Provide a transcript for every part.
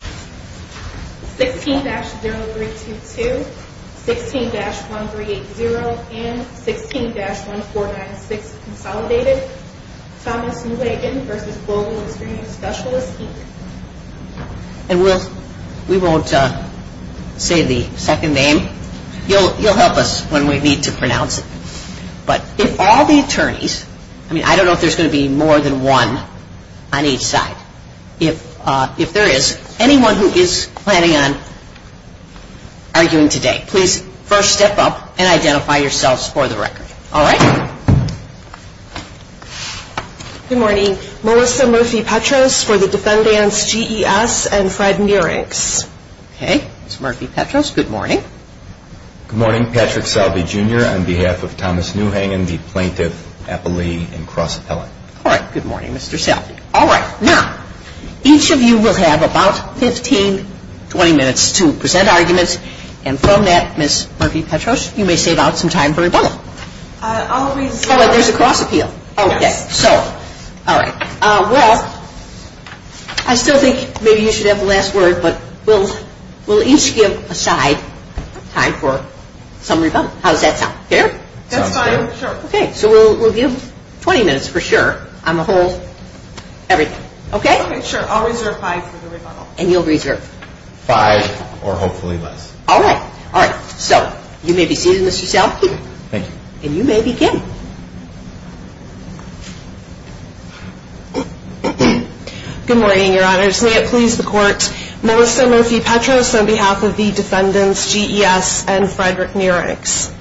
16-0322, 16-1380, and 16-1496 Consolidated, Thomas Neuhengen v. Global Experence Specialists, Inc. Anyone who is planning on arguing today, please first step up and identify yourselves for the record. All right. Good morning. Melissa Murphy-Petros for the defendants, G.E.S. and Fred Nierinks. Okay. It's Murphy-Petros. Good morning. Good morning. Patrick Selvey, Jr. on behalf of Thomas Neuhengen v. Plaintiff Appellee and Cross Appellate. All right. Good morning, Mr. Selvey. All right. Now, each of you will have about 15-20 minutes to present arguments. And from that, Ms. Murphy-Petros, you may save out some time for rebuttal. I'll be... There's a cross appeal. Okay. So, all right. Well, I still think maybe you should have the last word, but we'll each give aside time for some rebuttal. How does that sound? Fair? That's fine. Sure. Okay. So, we'll give 20 minutes for sure on the whole, everything. Okay? Okay. Sure. I'll reserve five for the rebuttal. And you'll reserve? Five, or hopefully less. All right. All right. So, you may begin, Mr. Selvey. Thank you. And you may begin. Good morning, Your Honors. May it please the Court, Melissa Murphy-Petros on behalf of the defendants, G.E.S. and Frederick Nierinks.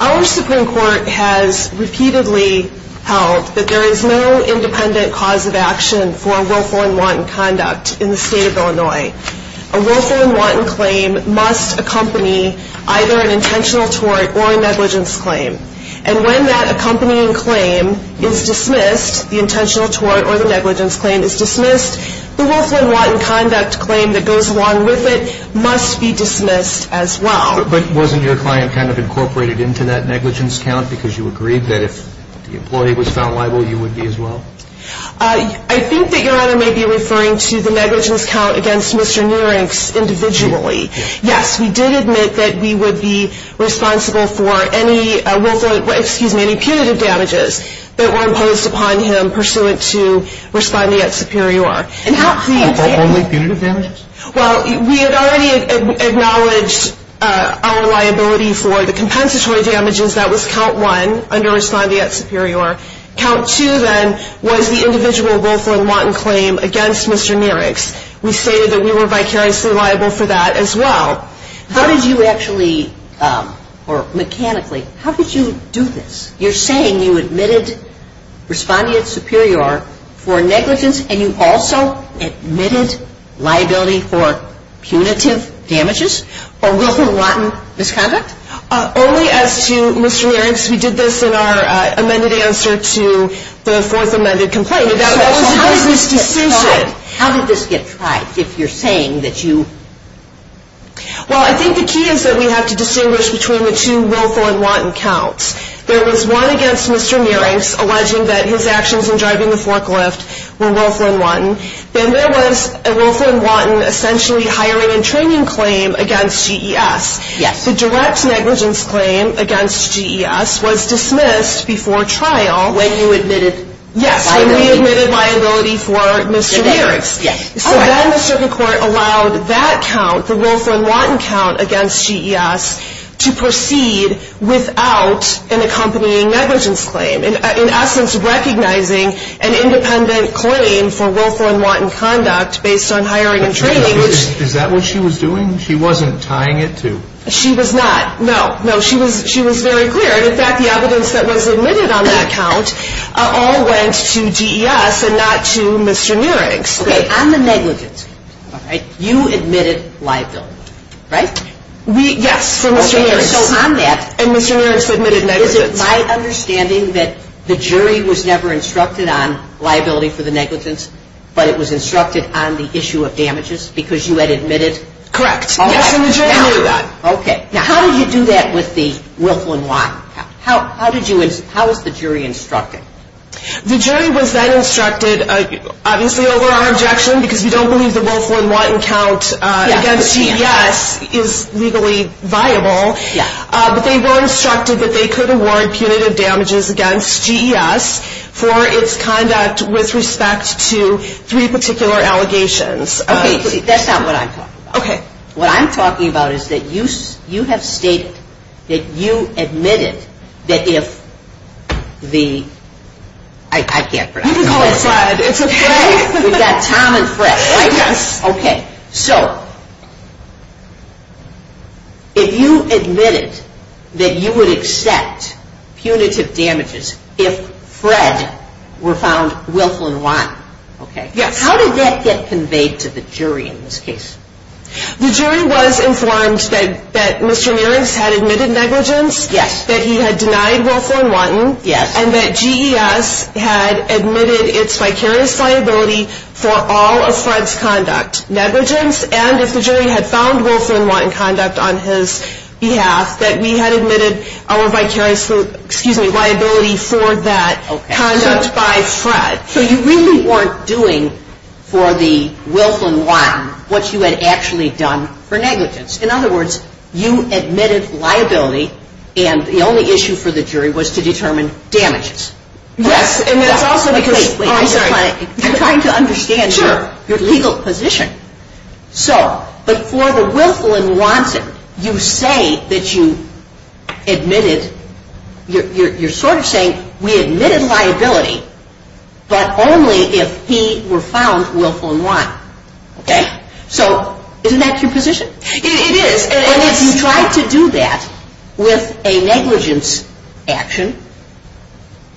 Our Supreme Court has repeatedly held that there is no independent cause of action for willful and wanton conduct in the State of Illinois. A willful and wanton claim must accompany either an intentional tort or a negligence claim. And when that accompanying claim is dismissed, the intentional tort or the negligence claim is dismissed, the willful and wanton conduct claim that goes along with it must be dismissed as well. But wasn't your client kind of incorporated into that negligence count because you agreed that if the employee was found liable, you would be as well? I think that Your Honor may be referring to the negligence count against Mr. Nierinks individually. Yes, we did admit that we would be responsible for any punitive damages that were imposed upon him pursuant to responding at Superior. And how can you say that? Only punitive damages? Well, we had already acknowledged our liability for the compensatory damages. That was count one under responding at Superior. Count two, then, was the individual willful and wanton claim against Mr. Nierinks. We say that we were vicariously liable for that as well. How did you actually, or mechanically, how did you do this? You're saying you admitted responding at Superior for negligence and you also admitted liability for punitive damages for willful and wanton misconduct? Only as to Mr. Nierinks. He did this in our amended answer to the fourth amended complaint. That was a high degree of consistency. How did this get tried if you're saying that you... Well, I think the key is that we have to distinguish between the two willful and wanton counts. There was one against Mr. Nierinks alleging that his actions in driving the forklift were willful and wanton. Then there was a willful and wanton essentially hiring and training claim against GES. The direct negligence claim against GES was dismissed before trial. When you admitted liability? Yes, I readmitted liability for Mr. Nierinks. So then the circuit court allowed that count, the willful and wanton count against GES, to proceed without an accompanying negligence claim. In essence, recognizing an independent claim for willful and wanton conduct based on hiring and training... Is that what she was doing? She wasn't tying it to... She was not. No, no. She was very clear. In fact, the negligence that was admitted on that count all went to GES and not to Mr. Nierinks. Okay, on the negligence, you admitted liability, right? Yes, for Mr. Nierinks. So on that... And Mr. Nierinks admitted negligence. My understanding that the jury was never instructed on liability for the negligence, but it was instructed on the issue of damages because you had admitted... Correct. Okay. Now, how did you do that with the willful and wanton count? How was the jury instructed? The jury was then instructed, obviously over our objection, because we don't believe the willful and wanton count against GES is legally viable. But they were instructed that they could award punitive damages against GES for its conduct with respect to three particular allegations. Okay, that's not what I'm talking about. Okay. What I'm talking about is that you have stated that you admitted that if the... I can't pronounce it. You can call it Fred. We've got Tom and Fred, right? Yes. Okay, so if you admitted that you would accept punitive damages if Fred were found willful and wanton, how did that get conveyed to the jury in this case? The jury was informed that Mr. Mears had admitted negligence, that you had denied willful and wanton, and that GES had admitted its vicarious liability for all of Fred's conduct. Negligence, and if the jury had found willful and wanton conduct on his behalf, that we had admitted our vicarious liability for that conduct by Fred. So you really weren't doing for the willful and wanton what you had actually done for negligence. In other words, you admitted liability, and the only issue for the jury was to determine damages. Yes, and that's also because I'm trying to understand your legal position. So, but for the willful and wanton, you say that you admitted... you're sort of saying we admitted liability, but only if he were found willful and wanton. Okay? So, isn't that your position? It is, and if you tried to do that with a negligence action,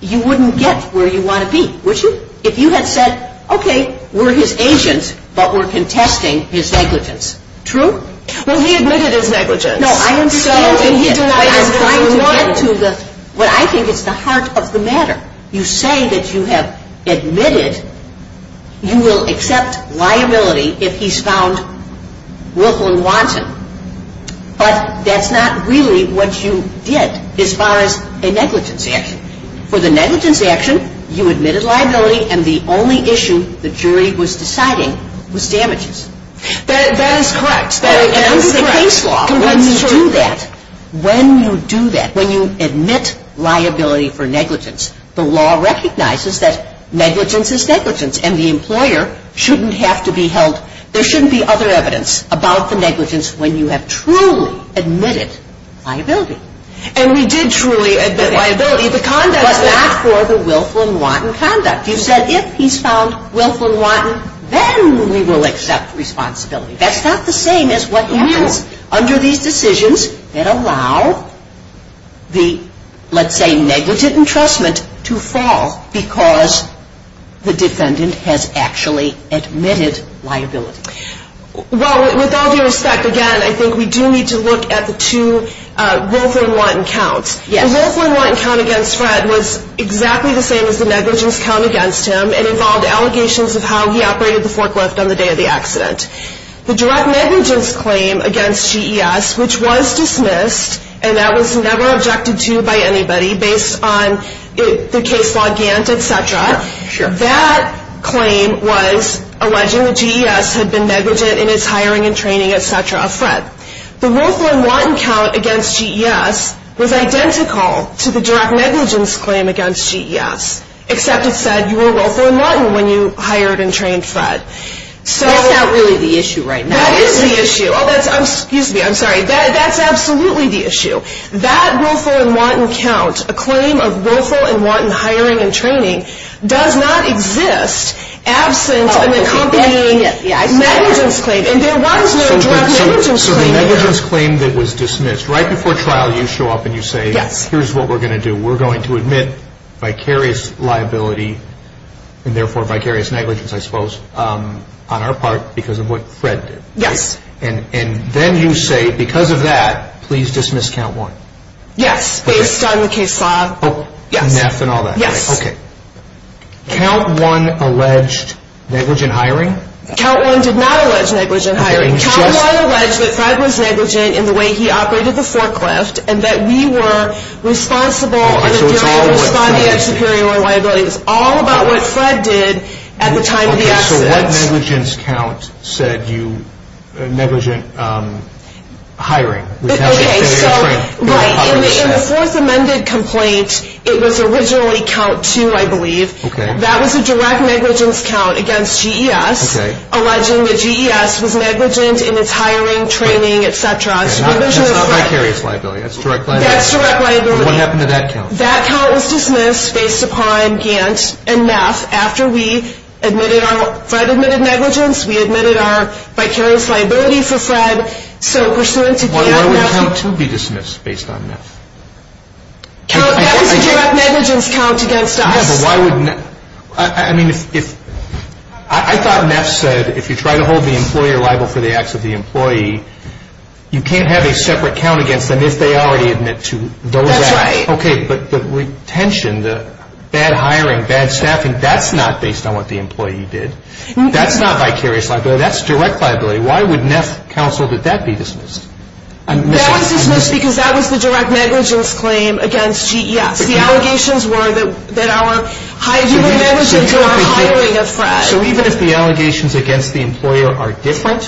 you wouldn't get where you want to be, would you? If you had said, okay, we're his agents, but we're contesting his negligence. True? Well, he admitted his negligence. No, I don't think so. No, he denied it. No, I don't think so. No, I don't think so. What I think is the heart of the matter. You say that you have admitted you will accept liability if he's found willful and wanton, but that's not really what you did as far as a negligence action. For the negligence action, you admitted liability, and the only issue the jury was deciding was damages. That is correct. And when you do that, when you do that, when you admit liability for negligence, the law recognizes that negligence is negligence, and the employer shouldn't have to be held... there shouldn't be other evidence about the negligence when you have truly admitted liability. And we did truly admit liability, but not for the willful and wanton conduct. You said if he's found willful and wanton, then we will accept responsibility. That's not the same as what you do under these decisions that allow the, let's say, negligent entrustment to fall because the defendant has actually admitted liability. Well, with all due respect, again, I think we do need to look at the two, willful and wanton count. The willful and wanton count against Fred was exactly the same as the negligence count against him, and involved allegations of how he operated the forklift on the day of the accident. The direct negligence claim against GES, which was dismissed, and that was never objected to by anybody based on the case law, GANS, etc., that claim was alleging that GES had been negligent in his hiring and training, etc., etc. The willful and wanton count against GES was identical to the direct negligence claim against GES, except it said you were willful and wanton when you hired and trained Fred. That's not really the issue right now. That is the issue. Oh, excuse me, I'm sorry. That's absolutely the issue. That willful and wanton count, a claim of willful and wanton hiring and training, does not exist absent an accompanying negligence claim, and there was no direct negligence claim. So the negligence claim that was dismissed, right before trial you show up and you say, here's what we're going to do. We're going to admit vicarious liability, and therefore vicarious negligence, I suppose, on our part because of what Fred did. And then you say, because of that, please dismiss Count 1. Yes, based on the case law. Count 1 alleged negligent hiring? Count 1 did not allege negligent hiring. Count 1 alleged that Fred was negligent in the way he operated the forecast, and that we were responsible for the growth of GES's superior liability. It was all about what Fred did at the time of the accident. So that negligence count said you were negligent hiring. Right. In the fourth amended complaint, it was originally Count 2, I believe. That was a direct negligence count against GES, alleging that GES was negligent in its hiring, training, etc. It's not vicarious liability, it's direct liability. What happened to that count? That count was dismissed based upon GANS and MEF. After Fred admitted negligence, we admitted our vicarious liability for Fred. Why would Count 2 be dismissed based on MEF? It's a direct negligence count against us. I thought MEF said if you try to hold the employee liable for the acts of the employee, you can't have a separate count against them if they already admit to those acts. That's right. But the retention, the bad hiring, bad staffing, that's not based on what the employee did. That's not vicarious liability, that's direct liability. Why would MEF counsel that that be dismissed? That was dismissed because that was the direct negligence claim against GES. The allegations were that our hired employees were hiring a Fred. So even if the allegations against the employer are different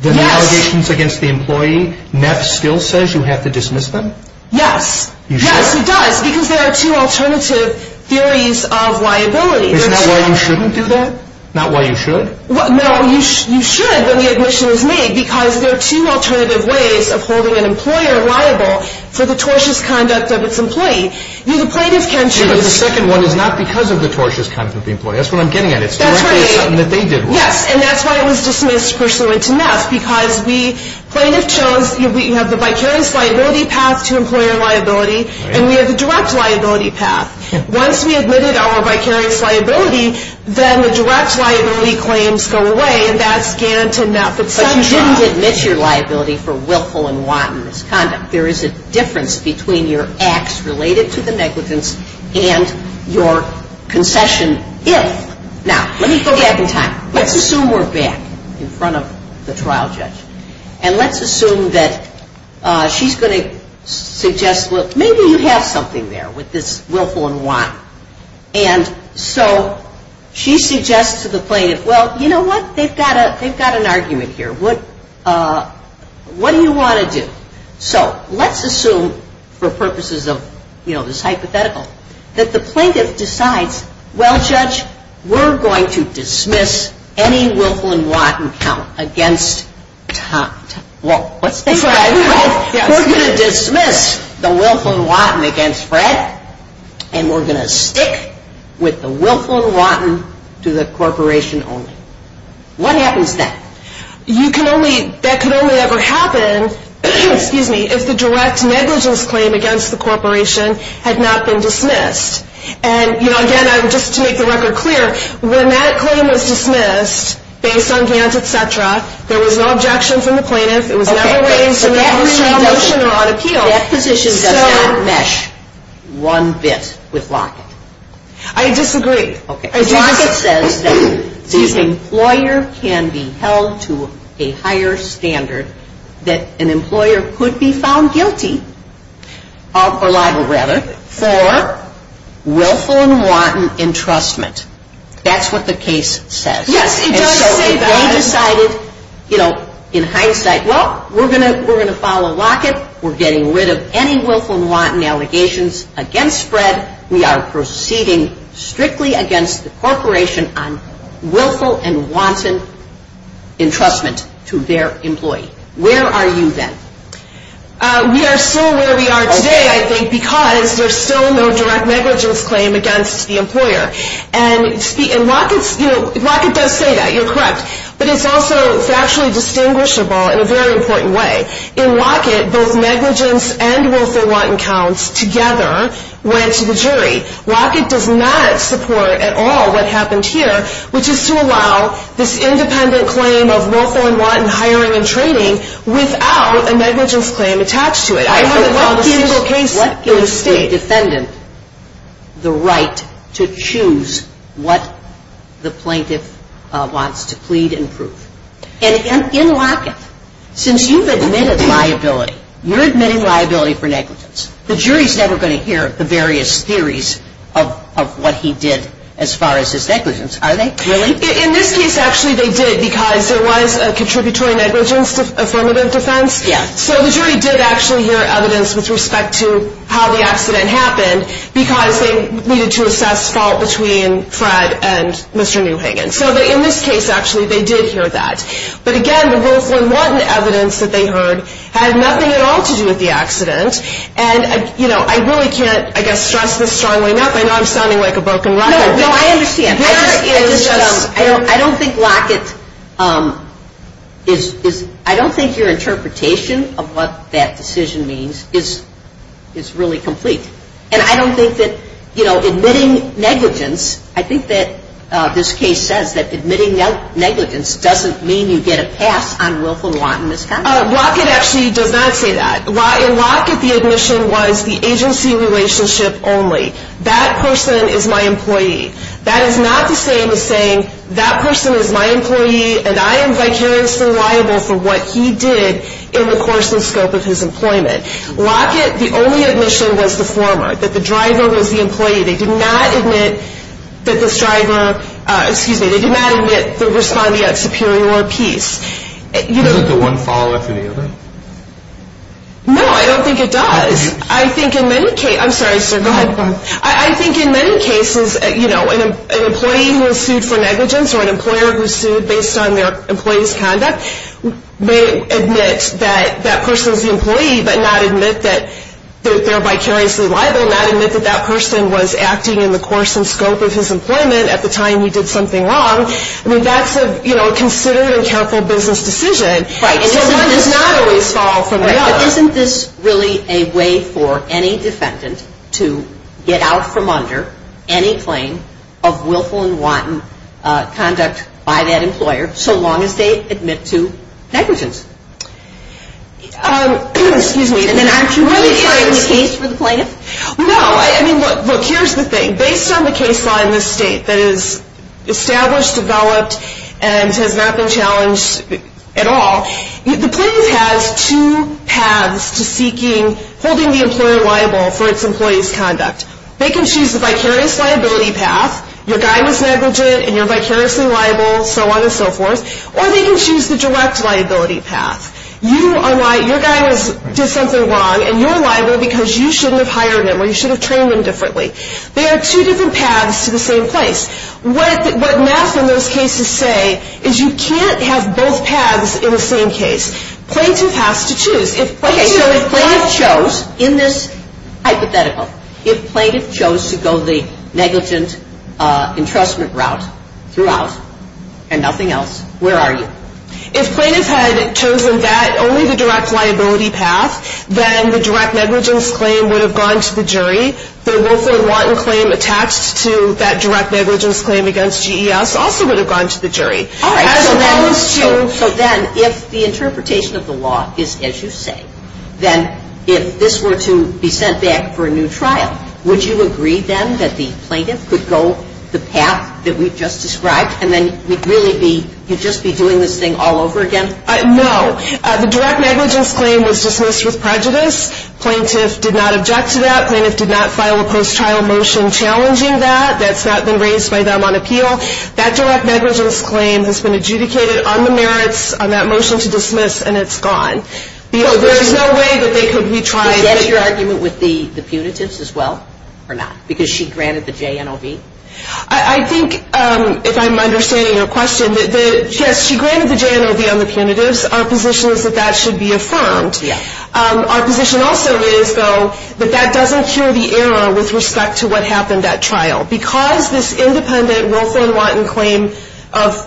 than the allegations against the employee, MEF still says you have to dismiss them? Yes. Yes, it does. Because there are two alternative theories of liability. Is that why you shouldn't do that? Not why you should? No, you should, but the admission was made because there are two alternative ways of holding an employer liable for the tortious conduct of its employee. The plaintiff can choose the second one. But it was not because of the tortious conduct of the employee. That's what I'm getting at. It's directly something that they did wrong. Yes, and that's why it was dismissed, which led to MEF. Because the plaintiff chose, you have the vicarious liability path to employer liability, and we have the direct liability path. Once we admitted our vicarious liability, then the direct liability claims go away, and that's guaranteed in that particular trial. So you didn't admit your liability for willful and wanton conduct. There is a difference between your acts related to the negligence and your concession if. Now, let me go back in time. Let's assume we're back in front of the trial judge, and let's assume that she's going to suggest, well, maybe you have something there with this willful and wanton. And so she suggests to the plaintiff, well, you know what? They've got an argument here. What do you want to do? So let's assume, for purposes of, you know, this hypothetical, that the plaintiff decides, well, judge, we're going to dismiss any willful and wanton against, well, we're going to dismiss the willful and wanton against Fred, and we're going to stick with the willful and wanton to the corporation only. What happens then? You can only, that could only ever happen, excuse me, if the direct negligence claim against the corporation had not been dismissed. And, you know, again, just to make the record clear, when that claim was dismissed, based on Zant, et cetera, there was no objections from the plaintiff. It was never written to the corporation or on appeal. That position doesn't match one bit with Lockett. I disagree. Lockett says that the employer can be held to a higher standard, that an employer could be found guilty, or liable, rather, for willful and wanton entrustment. That's what the case says. Yes, it does. And so they decided, you know, in hindsight, well, we're going to follow Lockett. We're getting rid of any willful and wanton allegations against Fred. We are proceeding strictly against the corporation on willful and wanton entrustment to their employee. Where are you then? We are still where we are today, I think, because there's still no direct negligence claim against the employer. And Lockett does say that. You're correct. But it's also actually distinguishable in a very important way. In Lockett, both negligence and willful and wanton counts together went to the jury. Lockett does not support at all what happens here, which is to allow this independent claim of willful and wanton hiring and training without a negligence claim attached to it. I think that's a serious occasion. Let's give the defendant the right to choose what the plaintiff wants to plead and prove. In Lockett, since you've admitted liability, you're admitting liability for negligence, the jury's never going to hear the various theories of what he did as far as his negligence, are they? In this case, actually, they did because there was a contributory negligence affirmative defense. So the jury did actually hear evidence with respect to how the accident happened because they needed to assess fault between Fred and Mr. Newhagen. So in this case, actually, they did hear that. But, again, the willful and wanton evidence that they heard had nothing at all to do with the accident. And, you know, I really can't, I guess, stress this strongly enough. I know I'm sounding like a broken record. No, I understand. I don't think Lockett is – I don't think your interpretation of what that decision means is really complete. And I don't think that, you know, admitting negligence, I think that this case says that admitting negligence doesn't mean you get a pass on willful and wanton misconduct. Lockett actually does not say that. In Lockett, the admission was the agency relationship only. That person is my employee. That is not the same as saying that person is my employee and I am vicariously liable for what he did in the course of his employment. Lockett, the only admission was the former, that the driver was the employee. They did not admit that this driver, excuse me, they did not admit that they were responding as superior or apiece. Does the one follow up any of that? No, I don't think it does. I think in many cases – I'm sorry, sir, go ahead. I think in many cases, you know, an employee who is sued for negligence or an employer who is sued based on their employee's conduct may admit that that person is the employee, but not admit that they're vicariously liable, not admit that that person was acting in the course and scope of his employment at the time he did something wrong. I mean, that's a, you know, considerate and careful business decision. Right. And this is not only a fall from above. Isn't this really a way for any defendant to get out from under any claim of willful and wanton conduct by that employer so long as they admit to negligence? Excuse me. And then are you really trying to make a case for the plaintiff? No, I mean, look, here's the thing. Based on the case law in this state that is established, developed, and has not been challenged at all, the plaintiff has two paths to seeking, holding the employer liable for its employee's conduct. They can choose a vicarious liability path, regardless of their budget, and they're vicariously liable, so on and so forth, or they can choose the direct liability path. You are liable. Your guy did something wrong, and you're liable because you shouldn't have hired him or you should have trained him differently. They are two different paths to the same place. What NASA in those cases say is you can't have both paths in the same case. Plaintiff has to choose. Okay, so if plaintiff chose, in this hypothetical, if plaintiff chose to go the negligence entrustment route throughout and nothing else, where are you? If plaintiff had chosen only the direct liability path, then the direct negligence claim would have gone to the jury. The willful wanton claim attached to that direct negligence claim against GES also would have gone to the jury. So then if the interpretation of the law is as you say, then if this were to be sent back for a new trial, would you agree then that the plaintiff could go the path that we've just described and then really just be doing this thing all over again? No. The direct negligence claim was dismissed with prejudice. Plaintiff did not object to that. Plaintiff did not file a post-trial motion challenging that. That's not been raised by them on appeal. That direct negligence claim has been adjudicated on the merits, on that motion to dismiss, and it's gone. There is no way that they could retry it. Do you have an argument with the punitivist as well or not? Because she granted the JNOB? I think, if I'm understanding your question, yes, she granted the JNOB on the punitivist. Our position is that that should be affirmed. Yes. Our position also is, though, that that doesn't show the error with respect to what happened at trial. Because this independent Wilford & Watton claim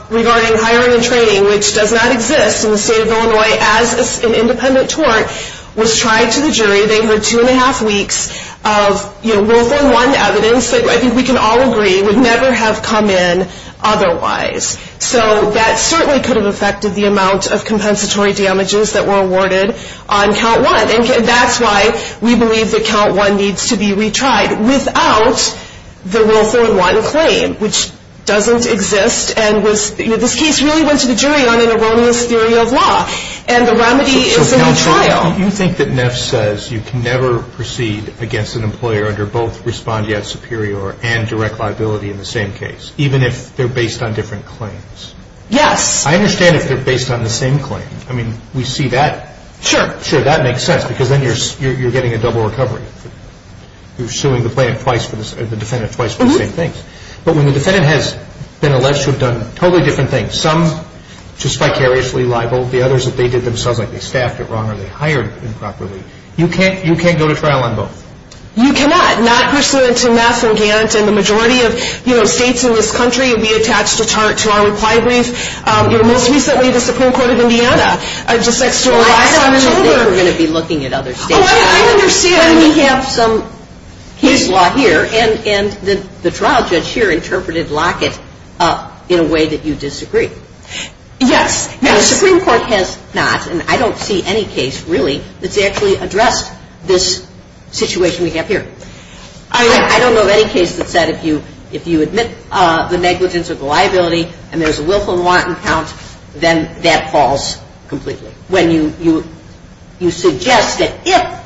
regarding hiring and training, which does not exist in the state of Illinois as an independent tort, was tried to the jury, they were two-and-a-half weeks of Wilford & Watton evidence that I think we can all agree would never have come in otherwise. So that certainly could have affected the amount of compensatory damages that were awarded on Count 1, and that's why we believe that Count 1 needs to be retried without the Wilford & Watton claim, which doesn't exist and this case really went to the jury on an erroneous theory of law. And the remedy is a retrial. You think that Neff says you can never proceed against an employer under both respondeat superior and direct liability in the same case, even if they're based on different claims? Yes. I understand if they're based on the same claim. I mean, we see that. Sure. Sure, that makes sense because then you're getting a double recovery. You're suing the defendant twice for the same things. But when the defendant has been alleged to have done totally different things, some just vicariously liable, the others that they did themselves, like they staffed it wrong or they hired improperly, you can't go to trial on both. You cannot. Neff responded to Neff and Gant and the majority of states in this country would be attached to our requirements. But most recently the Supreme Court of Indiana just said, I don't understand why we're going to be looking at other states. Well, I understand we have some huge law here, and the trial judge here interpreted Lockett in a way that you disagree. Yes. Now, the Supreme Court has not, and I don't see any case, really, that's actually addressed this situation we have here. I don't know of any case that said if you admit the negligence of the liability and there's a willful and wanton count, then that falls completely. When you suggest that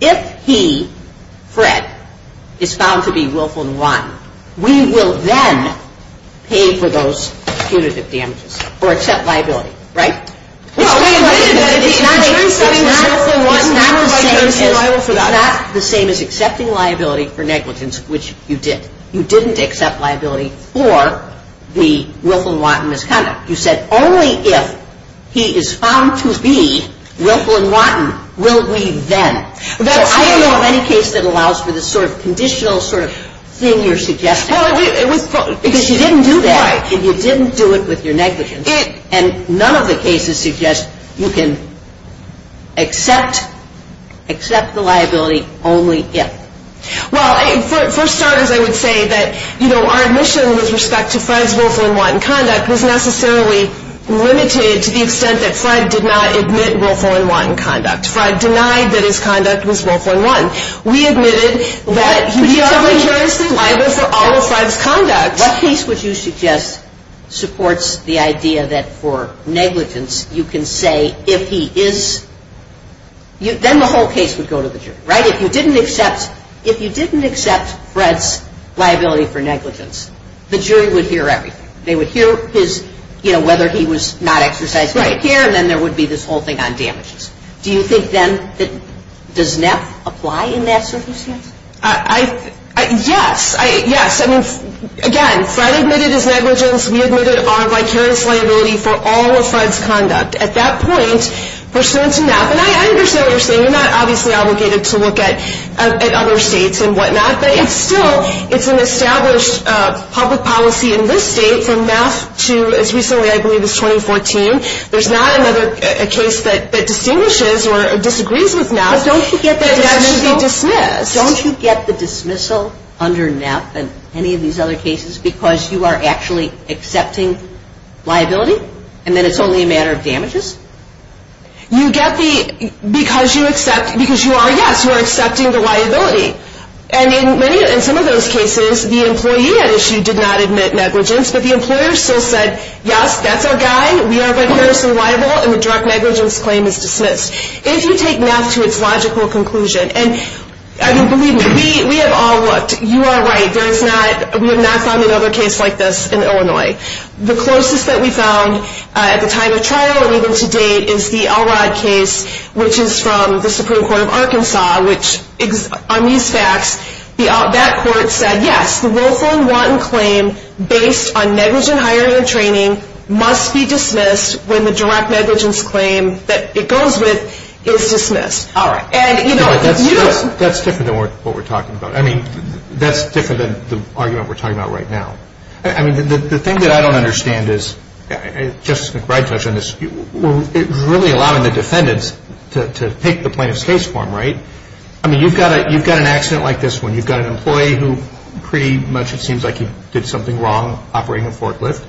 if he, Fred, is found to be willful and wanton, we will then pay for those punitive damages or accept liability, right? Well, wait a minute. I'm saying not the same as accepting liability for negligence, which you didn't. You didn't accept liability for the willful and wantonness count. You said only if he is found to be willful and wanton will we then. Now, I don't know of any case that allows for this sort of conditional sort of thing you're suggesting. Because you didn't do that, and you didn't do it with your negligence, and none of the cases suggest you can accept the liability only if. Well, for starters, I would say that, you know, our admission with respect to Fred's willful and wanton conduct was necessarily limited to the extent that Fred did not admit willful and wanton conduct. Fred denied that his conduct was willful and wanton. We admitted that he is a majority survivor for all of Fred's conduct. What case would you suggest supports the idea that for negligence you can say if he is, then the whole case would go to the jury, right? If you didn't accept Fred's liability for negligence, the jury would hear everything. They would hear his, you know, whether he was not exercised right here, and then there would be this whole thing on damages. Do you think, then, that does MAP apply in that circumstance? Yes. Yes. Again, Fred admitted his negligence. We admitted our vicarious liability for all of Fred's conduct. At that point, pursuant to MAP, and I understand what you're saying. You're not obviously obligated to look at other states and whatnot, but still, it's an established public policy in this state, from MAP to as recently, I believe, as 2014. There's not another case that distinguishes or disagrees with MAP. But don't you get the dismissal? Don't you get the dismissal under MAP and any of these other cases because you are actually accepting liability, and then it's only a matter of damages? You get the, because you accept, because you are, yes, you are accepting the liability. And in some of those cases, the employee at issue did not admit negligence, but the employer still said, yes, that's our guy. We are vicarious and liable, and the direct negligence claim is dismissed. If you take MAP to its logical conclusion, and believe me, we have all looked. You are right. There is not, we have not found another case like this in Illinois. The closest that we found at the time of trial or even to date is the Elrod case, which is from the Supreme Court of Arkansas, which on these facts, that court said, yes, the willful and wanton claim based on negligent hiring and training must be dismissed when the direct negligence claim that it goes with is dismissed. All right. That's different than what we're talking about. I mean, that's different than the argument we're talking about right now. I mean, the thing that I don't understand is, Justice McBride touched on this, it really allowed the defendants to pick the plaintiff's case form, right? I mean, you've got an accident like this one. You've got an employee who pretty much it seems like he did something wrong operating a forklift.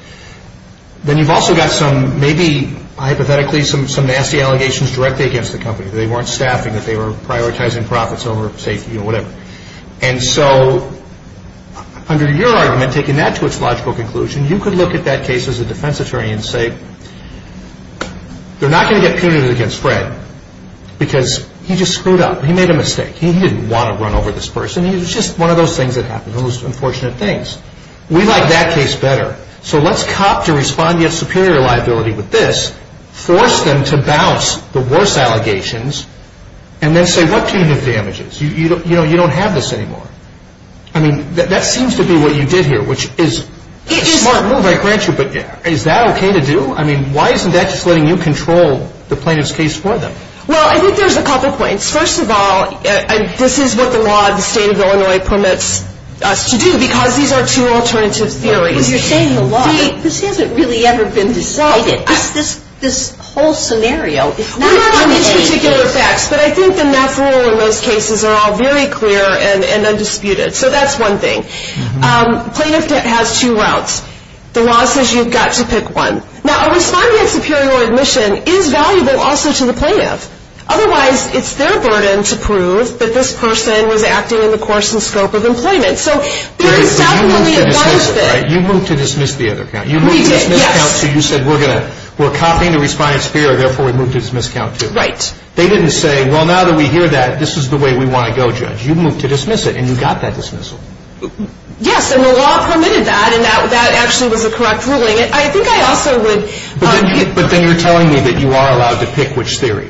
Then you've also got some, maybe hypothetically, some nasty allegations directly against the company. They weren't staffing it. They were prioritizing profits over safety or whatever. And so under your argument, taking that to its logical conclusion, you could look at that case as a defense attorney and say, they're not going to get penalized against Brad because he just screwed up. He made a mistake. He didn't want to run over this person. It's just one of those things that happens, one of those unfortunate things. We like that case better. So let's cop to respond to your superior liability with this, force them to balance the worst allegations, and then say, what can you do with damages? You know, you don't have this anymore. I mean, that seems to be what you did here, which is a smart move, I grant you. But is that okay to do? I mean, why isn't that just letting you control the plaintiff's case for them? Well, I think there's a couple points. First of all, this is what the law in the state of Illinois permits us to do because these are two alternatives. You know, if you're saying the law, this hasn't really ever been decided. This whole scenario is not going to change. I don't want to deal with that, but I think the math rule in those cases are all very clear and undisputed. So that's one thing. Plaintiff has two routes. The law says you've got to pick one. Now, responding to superior admission is valuable also to the plaintiff. Otherwise, it's their burden to prove that this person was acting in the course and scope of employment. So you're not going to be in charge of it. You moved to dismiss the other counsel. You moved to dismiss counsel. Actually, you said we're copying the respondent's theory, therefore we move to dismiss counsel. Right. They didn't say, well, now that we hear that, this is the way we want to go, Judge. You moved to dismiss it, and you got that dismissal. Yes, and the law permitted that, and that actually was a correct ruling. I think I also would argue – But then you're telling me that you are allowed to pick which theory.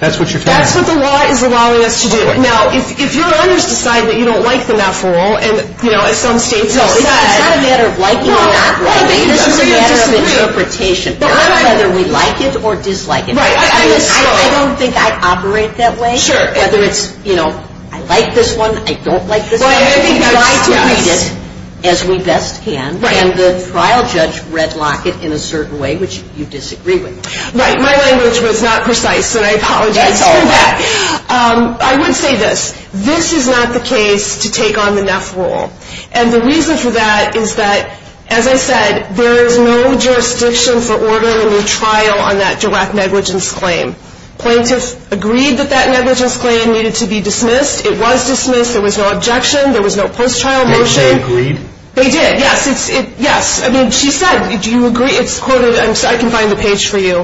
That's what you're telling me. That's what the law is allowing us to do. Now, if your owners decide that you don't like the math rule, No, it's not a matter of liking the math rule. It's a matter of interpretation. It's not whether we like it or dislike it. I don't think I operate that way. Whether it's, you know, I like this one, I don't like this one. We try to treat it as we best can, and the trial judge red-locked it in a certain way, which you disagree with. Right, my language was not precise when I told you all that. I would say this. This is not the case to take on the math rule. And the reason for that is that, as I said, there is no jurisdiction for ordering a trial on that direct negligence claim. Plaintiffs agreed that that negligence claim needed to be dismissed. It was dismissed. There was no objection. There was no first-trial motion. They agreed? They did, yes. Yes, I mean, she said, do you agree? It's quoted – I can find the page for you.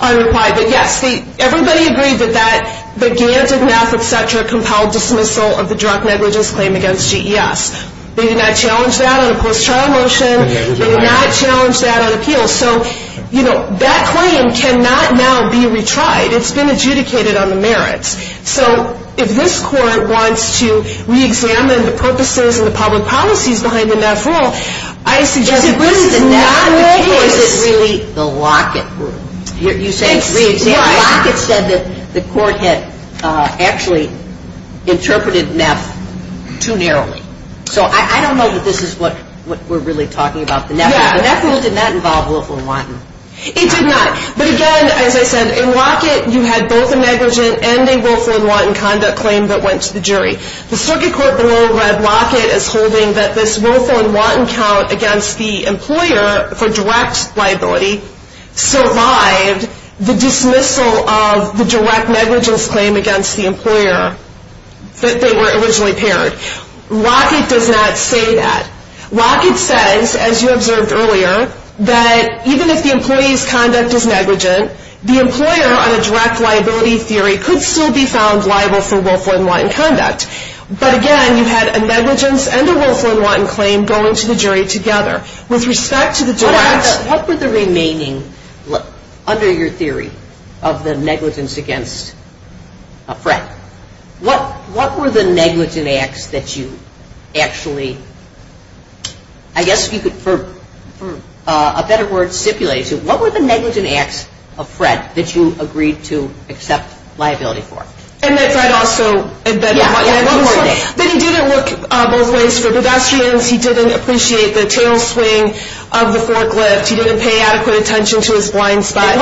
Unrequired. But, yes, everybody agreed that that, the gains of math, et cetera, compelled dismissal of the direct negligence claim against GES. They did not challenge that on a first-trial motion. They did not challenge that on appeals. So, you know, that claim cannot now be retried. It's been adjudicated on the merits. So if this Court wants to re-examine the purposes and the public policies behind the math rule, I suggest that it's really the Lockett rule. You say it's re-examined. Lockett said that the Court had actually interpreted NEP too narrowly. So I don't know that this is what we're really talking about. The NEP rule did not involve willful and wanton. It did not. But, again, as I said, in Lockett you had both a negligent and a willful and wanton conduct claim that went to the jury. The Circuit Court rule read Lockett as holding that this willful and wanton count against the employer for direct liability survived the dismissal of the direct negligence claim against the employer that they were originally parents. Lockett does not say that. Lockett says, as you observed earlier, that even if the employee's conduct is negligent, the employer on a direct liability theory could still be found liable for willful and wanton conduct. But, again, you had a negligence and a willful and wanton claim going to the jury together. With respect to the direct act, what were the remaining, under your theory, of the negligence against a threat? What were the negligent acts that you actually, I guess, for a better word, stipulated? What were the negligent acts of threat that you agreed to accept liability for? And that that also identified as willful. That he didn't look both ways for deductions, he didn't appreciate the tailspin of the forklift, he didn't pay adequate attention to his blind spot.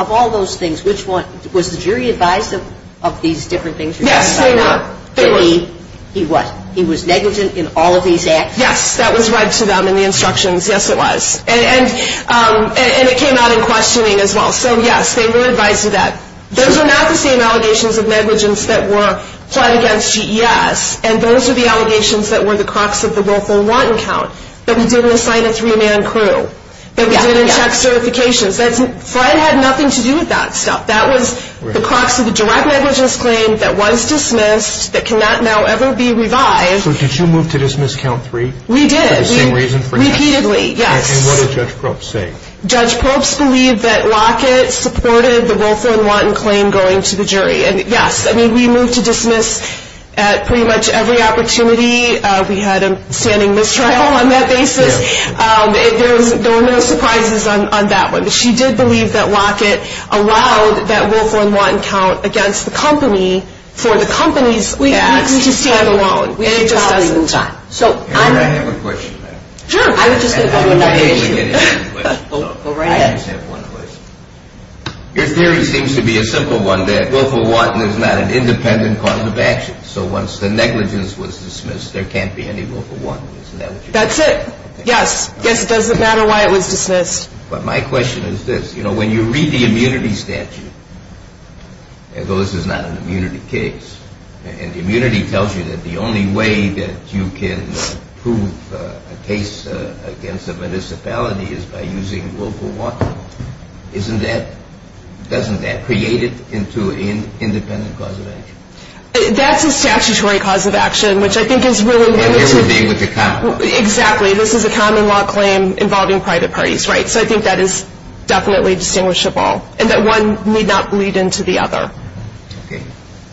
Of all those things, which one? Was the jury advised of these different things? Yes, they were. He was. He was negligent in all of these acts? Yes, that was read to them in the instructions. Yes, it was. And it came out in questioning as well. So, yes, they were advised of that. Those are not the same allegations of negligence that were applied against GES, and those are the allegations that were the crux of the Volcker and Watten count, that he didn't assign a three-man crew, that he didn't check certifications. Threat had nothing to do with that stuff. That was the crux of the direct negligence claim that was dismissed, that cannot now ever be revised. So did you move to dismiss count three? We did. For the same reason perhaps? Repeatedly, yes. And what did Judge Probst say? Judge Probst believed that Lockett supported the Volcker and Watten claim going to the jury. And, yes, I mean, we moved to dismiss at pretty much every opportunity. We had a standing mistrial on that basis. There were no surprises on that one. She did believe that Lockett allowed that Volcker and Watten count against the company for the company's three-man crew stand-alone. Can I ask a question? Sure. Your theory seems to be a simple one, that Volcker and Watten is not an independent cause of action. So once the negligence was dismissed, there can't be any Volcker and Watten. That's it. Yes. It doesn't matter why it was dismissed. But my question is this. You know, when you read the immunity statute, though this is not an immunity case, and the immunity tells you that the only way that you can prove a case against a municipality is by using Volcker and Watten, isn't that, doesn't that create it into an independent cause of action? That's a statutory cause of action, which I think is really important. And you're dealing with a common law. Exactly. This is a common law claim involving private parties, right? So I think that is definitely distinguishable. And that one may not lead into the other. Okay.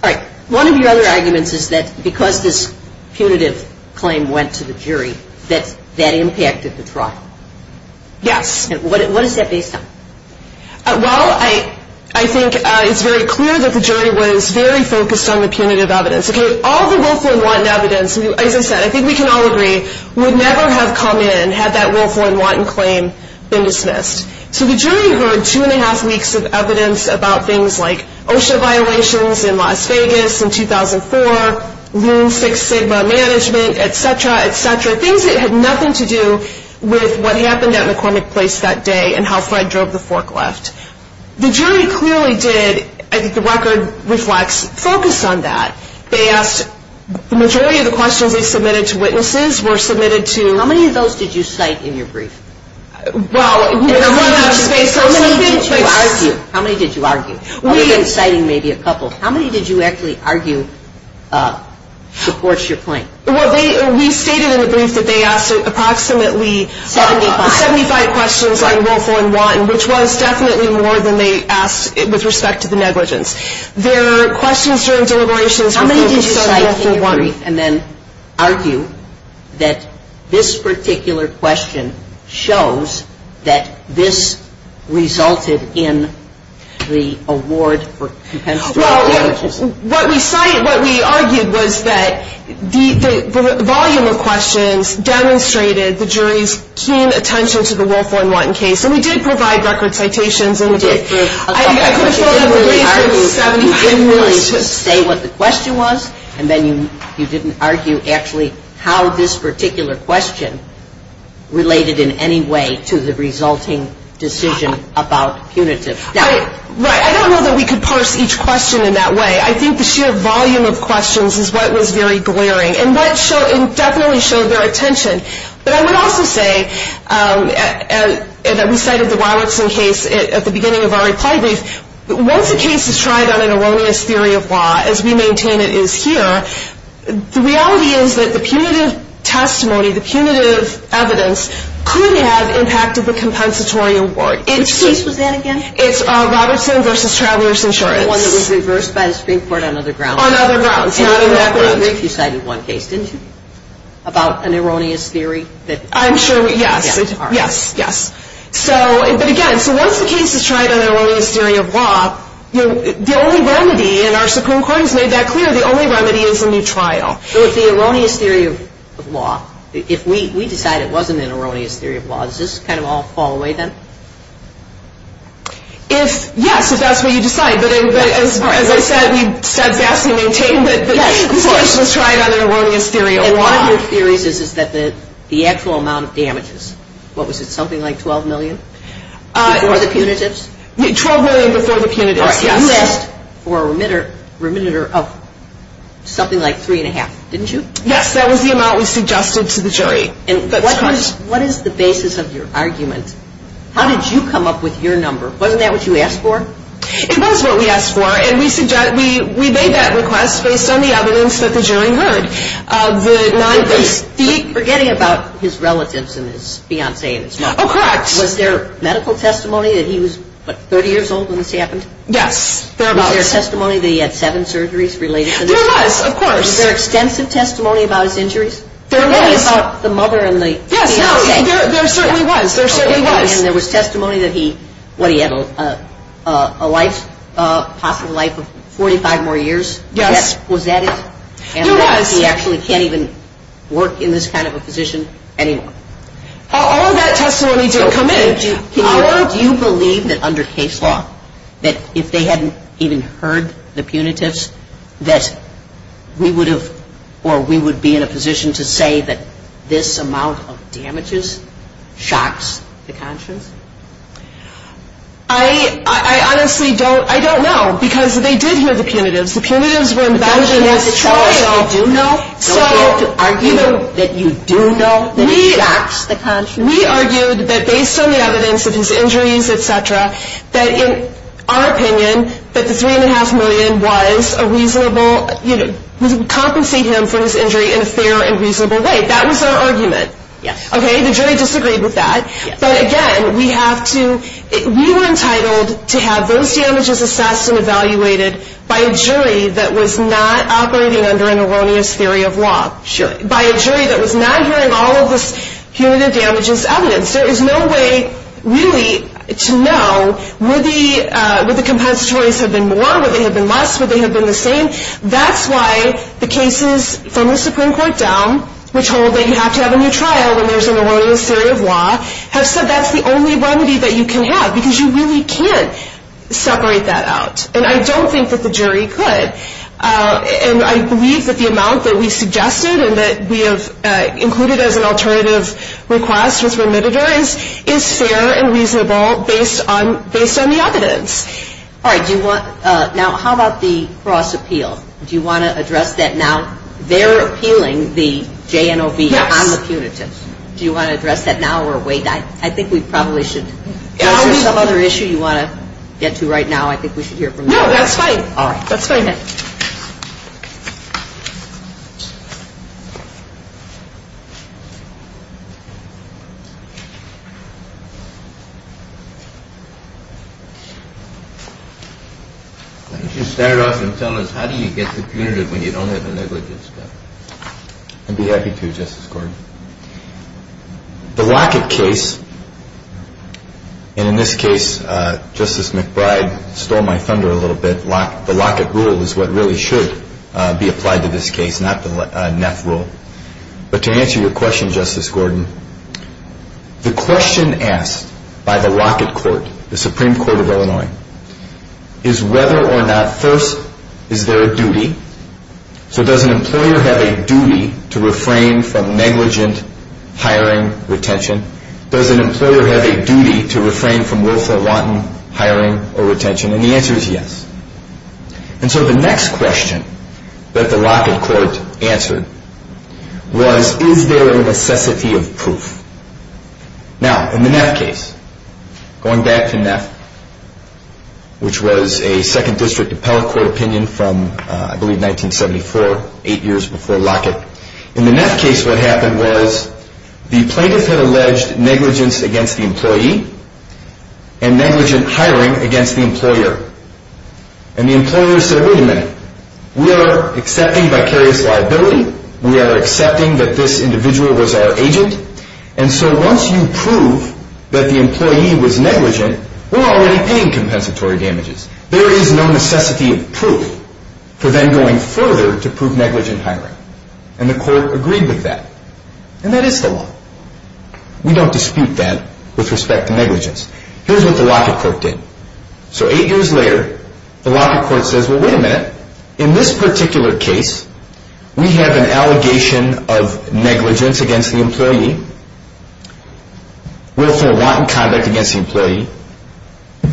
All right. One of your other arguments is that because this punitive claim went to the jury, that that impacted the trial. Yes. And what is that based on? Well, I think it's very clear that the jury was very focused on the punitive evidence. All the Volcker and Watten evidence, as I said, I think we can all agree, would never have come in and had that Volcker and Watten claim been dismissed. So the jury heard two-and-a-half weeks of evidence about things like OSHA violations in Las Vegas in 2004, Room Six Sigma management, et cetera, et cetera, things that had nothing to do with what happened at McCormick Place that day and how Fred drove the forklift. The jury clearly did, as the record reflects, focus on that. They asked, the majority of the questions we submitted to witnesses were submitted to How many of those did you cite in your brief? Well, there was a brief. How many did you argue? How many did you argue? I'm citing maybe a couple. How many did you actually argue supports your claim? Well, we stated in the brief that they asked approximately 75 questions about Volcker and Watten, which was definitely more than they asked with respect to the negligence. There are questions during deliberations. How many did you cite in your brief and then argue that this particular question shows that this resulted in the award for potential damages? Well, what we cited, what we argued was that the volume of questions demonstrated the jury's keen attention to the Volcker and Watten case, and we did provide record citations. So you didn't really just say what the question was, and then you didn't argue actually how this particular question related in any way to the resulting decision about punitive. Right. I don't know that we could parse each question in that way. I think the sheer volume of questions is what was very glaring, and that definitely shows their attention. But I would also say that we cited the Robertson case at the beginning of our recall brief. Once a case is tried on an erroneous theory of law, as we maintain it is here, the reality is that the punitive testimony, the punitive evidence, could have impacted the compensatory award. Which case was that again? It's Robertson v. Travelers Insurance. The one that was reversed by the Supreme Court on other grounds. On other grounds. We cited one case, didn't we, about an erroneous theory? I'm sure we did. Yes, yes. But again, so once a case is tried on an erroneous theory of law, the only remedy, and our Supreme Court has made that clear, the only remedy is a new trial. So if the erroneous theory of law, if we decide it wasn't an erroneous theory of law, does this kind of all fall away then? Yes, if that's what you decide. As I said, we said that, we maintained it, the case was tried on an erroneous theory of law. And one of your theories is that the actual amount of damages, what was it, something like $12 million before the punitive? $12 million before the punitive. You asked for a reminder of something like three and a half, didn't you? Yes, that was the amount we suggested to the jury. What is the basis of your argument? How did you come up with your number? Wasn't that what you asked for? It was what we asked for, and we made that request based on the evidence that the jury heard. You keep forgetting about his relatives and his fiancée. Oh, correct. Was there medical testimony that he was 30 years old when this happened? Yes, there was. Was there testimony that he had seven surgeries related to this? There was, of course. Was there extensive testimony about his injuries? There was. The mother and the… Yes, there certainly was. And there was testimony that he had a life, a possible life of 45 more years? Yes. Was that it? Yes. And he actually can't even work in this kind of a position anymore? All of that testimony we do… Do you believe that under case law, that if they hadn't even heard the punitives, that we would be in a position to say that this amount of damages, shocks the conscience? I honestly don't know, because they did hear the punitives. The punitives were embedded in the trial. So, the argument that you do know shocks the conscience? We argued that based on the evidence, with his injuries, et cetera, that in our opinion that the $3.5 million was a reasonable, compensating him for his injury in a fair and reasonable way. That was our argument. Okay, the jury disagreed with that. But again, we have to… We were entitled to have those damages assessed and evaluated by a jury that was not operating under an erroneous theory of law. Sure. By a jury that was not hearing all of the punitive damages evidence. There is no way really to know would the compensatory have been more, would they have been less, would they have been the same? That's why the cases from the Supreme Court down which hold that you have to have a new trial when there's an erroneous theory of law, have said that's the only remedy that you can have because you really can't separate that out. And I don't think that the jury could. And I believe that the amount that we suggested and that we have included as an alternative request with remitted earnings is fair and reasonable based on the evidence. All right, do you want… Now, how about the Frost Appeal? Do you want to address that now? They're appealing the JNOB on the punitives. Do you want to address that now or wait? I think we probably should… If there's some other issue you want to get to right now, I think we should hear from you. No, that's fine. All right. Let's go ahead. Why don't you start off and tell us how do you get to punitive when you don't have a liberty? I'd be happy to, Justice Gordon. The Lockett case, and in this case Justice McBride stole my thunder a little bit. The Lockett rule is what really should be applied to this case, not the NEP rule. But to answer your question, Justice Gordon, the question asked by the Lockett Court, the Supreme Court of Illinois, is whether or not, first, is there a duty? So does an employer have a duty to refrain from negligent hiring or retention? Does an employer have a duty to refrain from willful, rotten hiring or retention? And the answer is yes. And so the next question that the Lockett Court answered was is there a necessity of proof? Now, in the NEP case, going back to NEP, which was a 2nd District Appellate Court opinion from, I believe, 1974, eight years before Lockett. In the NEP case what happened was the plaintiff had alleged negligence against the employee and negligent hiring against the employer. And the employer said, wait a minute. We are accepting by Kerry's liability. We are accepting that this individual was our agent. And so once you prove that the employee was negligent, we're already paying compensatory damages. There is no necessity of proof for them going further to prove negligent hiring. And the court agreed with that. And that is the law. We don't dispute that with respect to negligence. Here's what the Lockett Court did. So eight years later, the Lockett Court says, well, wait a minute. In this particular case, we have an allegation of negligence against the employee, willful wanton conduct against the employee,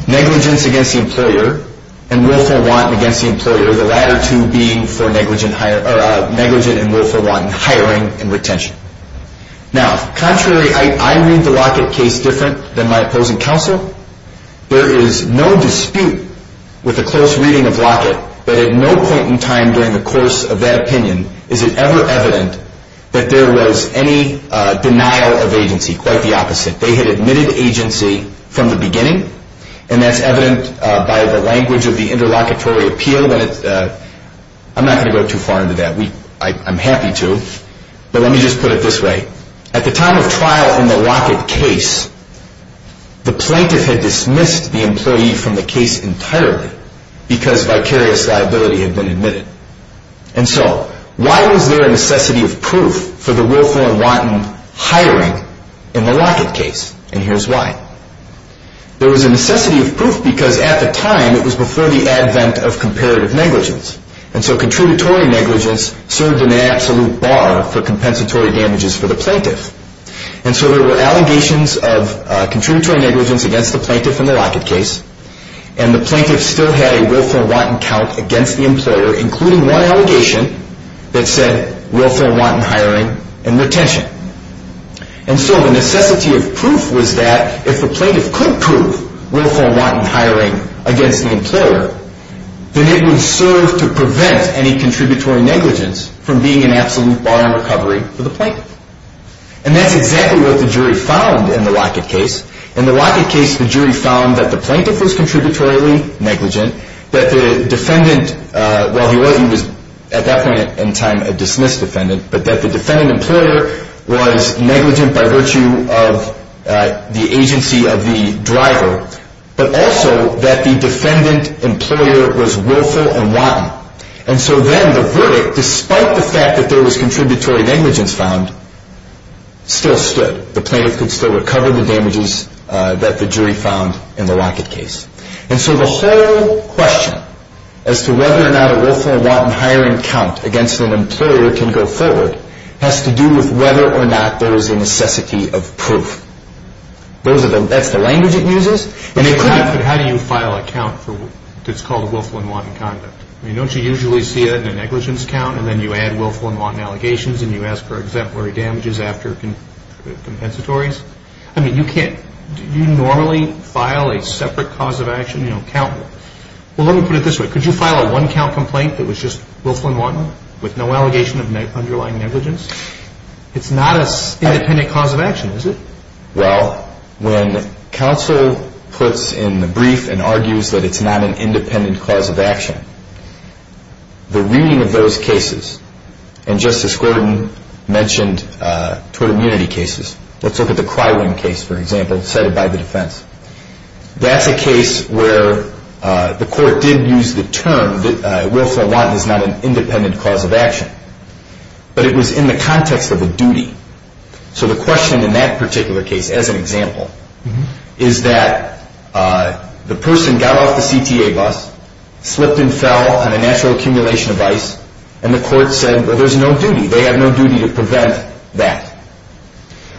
negligence against the employer, and willful wanton against the employer, the latter two being for negligent and willful wanton hiring and retention. Now, contrary, I read the Lockett case different than my opposing counsel. There is no dispute with a close reading of Lockett, but at no point in time during the course of that opinion is it ever evident that there was any denial of agency. Quite the opposite. They had admitted agency from the beginning, and that's evident by the language of the interlocutory appeal. I'm not going to go too far into that. I'm happy to. But let me just put it this way. At the time of trial in the Lockett case, the plaintiff had dismissed the employee from the case entirely because vicarious liability had been admitted. And so why was there a necessity of proof for the willful and wanton hiring in the Lockett case? And here's why. There was a necessity of proof because at the time, it was before the advent of comparative negligence, and so contributory negligence served an absolute bar for compensatory damages for the plaintiff. And so there were allegations of contributory negligence against the plaintiff in the Lockett case, and the plaintiff still had a willful and wanton count against the employer, including one allegation that said willful and wanton hiring and retention. And so the necessity of proof was that if the plaintiff could prove willful and wanton hiring against the employer, then it would serve to prevent any contributory negligence from being an absolute bar on recovery for the plaintiff. And that's exactly what the jury found in the Lockett case. In the Lockett case, the jury found that the plaintiff was contributory negligent, that the defendant, while he was at that point in time a dismissed defendant, but that the defendant employer was negligent by virtue of the agency of the driver, but also that the defendant employer was willful and wanton. And so then the verdict, despite the fact that there was contributory negligence found, still stood. The plaintiff could still recover the damages that the jury found in the Lockett case. And so the whole question as to whether or not a willful and wanton hiring count against an employer can go forward has to do with whether or not there is a necessity of proof. That's the language it uses. And you have to have you file a count that's called a willful and wanton count. Don't you usually see a negligence count and then you add willful and wanton allegations and you ask for exemplary damages after compensatories? I mean, do you normally file a separate cause of action count? Well, let me put it this way. Could you file a one-count complaint that was just willful and wanton with no allegation of underlying negligence? It's not an independent cause of action, is it? Well, when counsel puts in the brief and argues that it's not an independent cause of action, the ruling of those cases and Justice Gordon mentioned total unity cases. Let's look at the Krywin case, for example, cited by the defense. That's a case where the court did use the term that willful and wanton is not an independent cause of action. But it was in the context of a duty. So the question in that particular case, as an example, is that the person got off the CPA bus, slipped and fell on a natural accumulation of ice, and the court said, well, there's no duty. They have no duty to prevent that.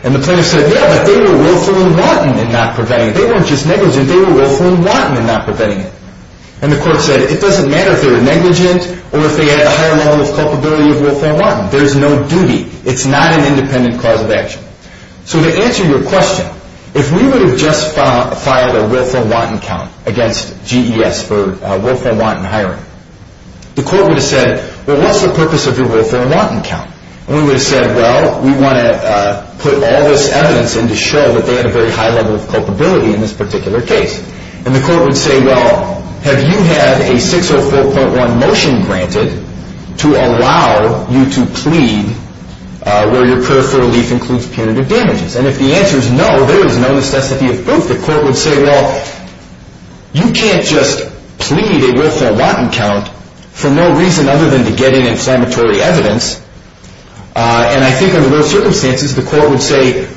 And the plaintiff said, yeah, but they were willful and wanton in not preventing it. They weren't just negligent. They were willful and wanton in not preventing it. And the court said, it doesn't matter if they were negligent or if they had a high level of culpability with willful and wanton. There's no duty. It's not an independent cause of action. So to answer your question, if we were to just file a willful and wanton count against GES for willful and wanton hiring, the court would have said, well, what's the purpose of your willful and wanton count? And we would have said, well, we want to put all this evidence in to show that they have a very high level of culpability in this particular case. And the court would say, well, have you had a 604.1 motion granted to allow you to plead where your particular leak includes punitive damages? And if the answer is no, there is no necessity of both. The court would say, well, you can't just plead a willful and wanton count for no reason other than to get any inflammatory evidence. And I think under those circumstances, the court would say,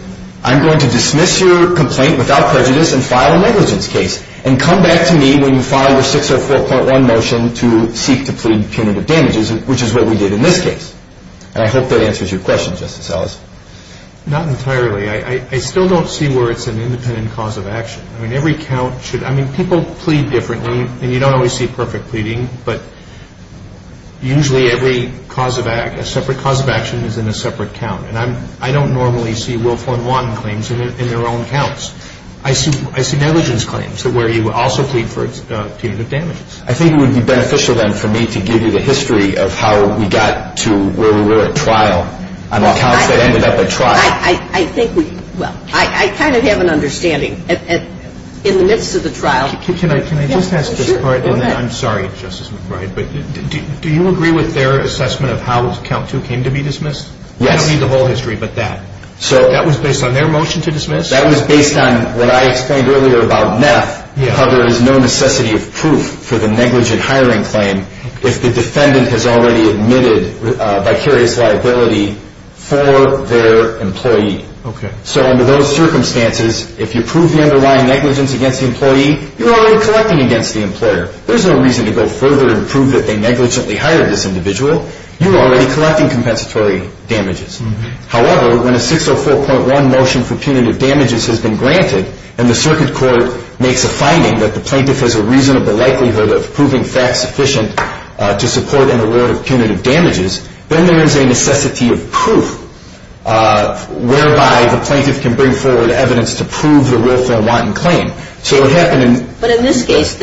I'm going to dismiss your complaint without prejudice and file a negligence case. And come back to me when you file your 604.1 motion to seek to plead punitive damages, which is what we did in this case. And I hope that answers your question, Justice Ellis. Not entirely. I still don't see where it's an independent cause of action. I mean, every count should... I mean, people plead differently, and you don't always see perfect pleading, but usually every separate cause of action is in a separate count. And I don't normally see willful and wanton claims in their own counts. I see negligence claims where you also plead for punitive damages. I think it would be beneficial, then, for me to give you the history of how we got to where we were at trial and how that ended up at trial. I think we... Well, I kind of have an understanding. In the midst of the trial... Can I just ask you a question? I'm sorry, Justice McBride, but do you agree with their assessment of how count 2 came to be dismissed? I don't need the whole history, but that. That was based on their motion to dismiss? That was based on what I explained earlier about NEP, how there is no necessity of proof for the negligent hiring claim if the defendant has already admitted a vicarious liability for their employee. So under those circumstances, if you prove the underlying negligence against the employee, you're already collecting against the employer. There's no reason to go further and prove that they negligently hired this individual. You're already collecting compensatory damages. However, when a 604.1 motion for punitive damages has been granted and the circuit court makes a finding that the plaintiff has a reasonable likelihood of proving facts sufficient to support an award of punitive damages, then there is a necessity of proof whereby the plaintiff can bring forward evidence to prove the Wilson and Martin claim. But in this case,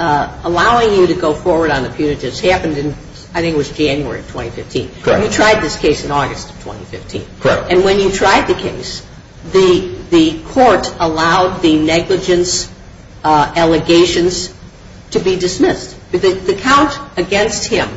allowing you to go forward on the punitives happened in, I think it was January 2015. Correct. You tried this case in August 2015. Correct. And when you tried the case, the court allowed the negligence allegations to be dismissed. The count against him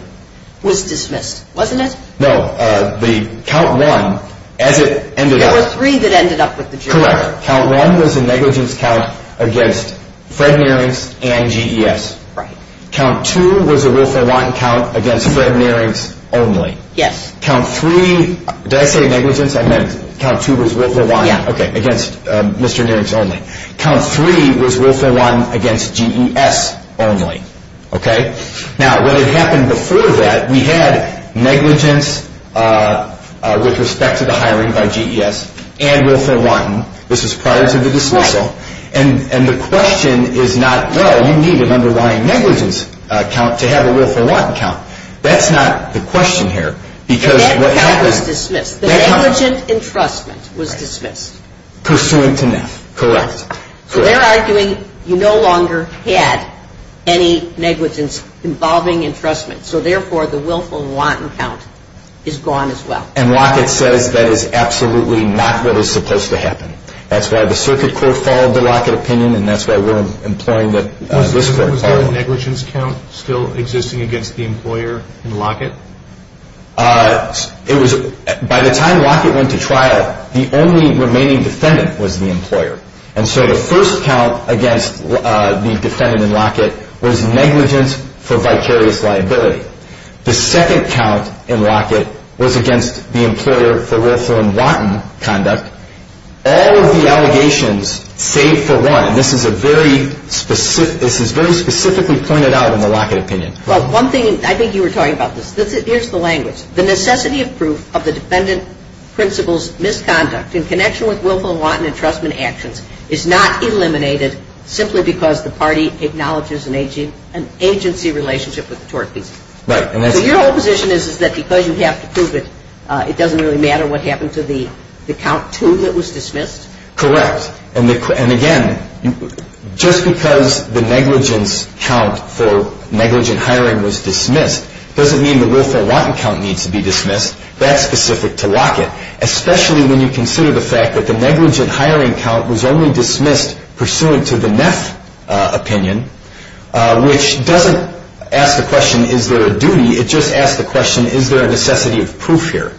was dismissed, wasn't it? No. The count one ended up... That was three that ended up with the jury. Correct. Count one was a negligence count against Fred Nierings and GES. Right. Count two was a Wilson and Martin count against Fred Nierings only. Yes. Count three... Did I say negligence? I meant count two was Wilson and Martin against Mr. Nierings only. Count three was Wilson and Martin against GES only. Okay? Now, when it happened before that, we had negligence with respect to the hiring by GES and Wilson and Martin. This is prior to the dismissal. And the question is not, well, you need an underlying negligence count to have a Wilson and Martin count. That's not the question here, because what happened... That count was dismissed. The negligence entrustment was dismissed. Pursuant to that. Correct. So they're arguing you no longer had any negligence involving entrustment, so therefore the Wilson and Martin count is gone as well. And Lockett said that is absolutely not what is supposed to happen. That's why the circuit court followed the Lockett opinion, and that's why we're imploring that... Was the Wilson and Martin negligence count still existing against the employer in Lockett? It was... By the time Lockett went to trial, the only remaining defendant was the employer. And so the first count against the defendant in Lockett was negligence for vicarious liability. The second count in Lockett was against the employer for Wilson and Martin conduct. All of the allegations save for one, and this is very specifically pointed out in the Lockett opinion. One thing... I think you were talking about this. Here's the language. The necessity of proof of the defendant principal's misconduct in connection with Wilson and Martin entrustment actions is not eliminated simply because the party acknowledges an agency relationship with the tort piece. Right. So your opposition is that because you have to prove it, it doesn't really matter what happened to the count two that was dismissed? Correct. And again, just because the negligence count for negligent hiring was dismissed doesn't mean the Wilson Lockett count needs to be dismissed. That's specific to Lockett, especially when you consider the fact that the negligent hiring count was only dismissed pursuant to the Neff opinion, which doesn't ask the question, is there a duty? It just asks the question, is there a necessity of proof here?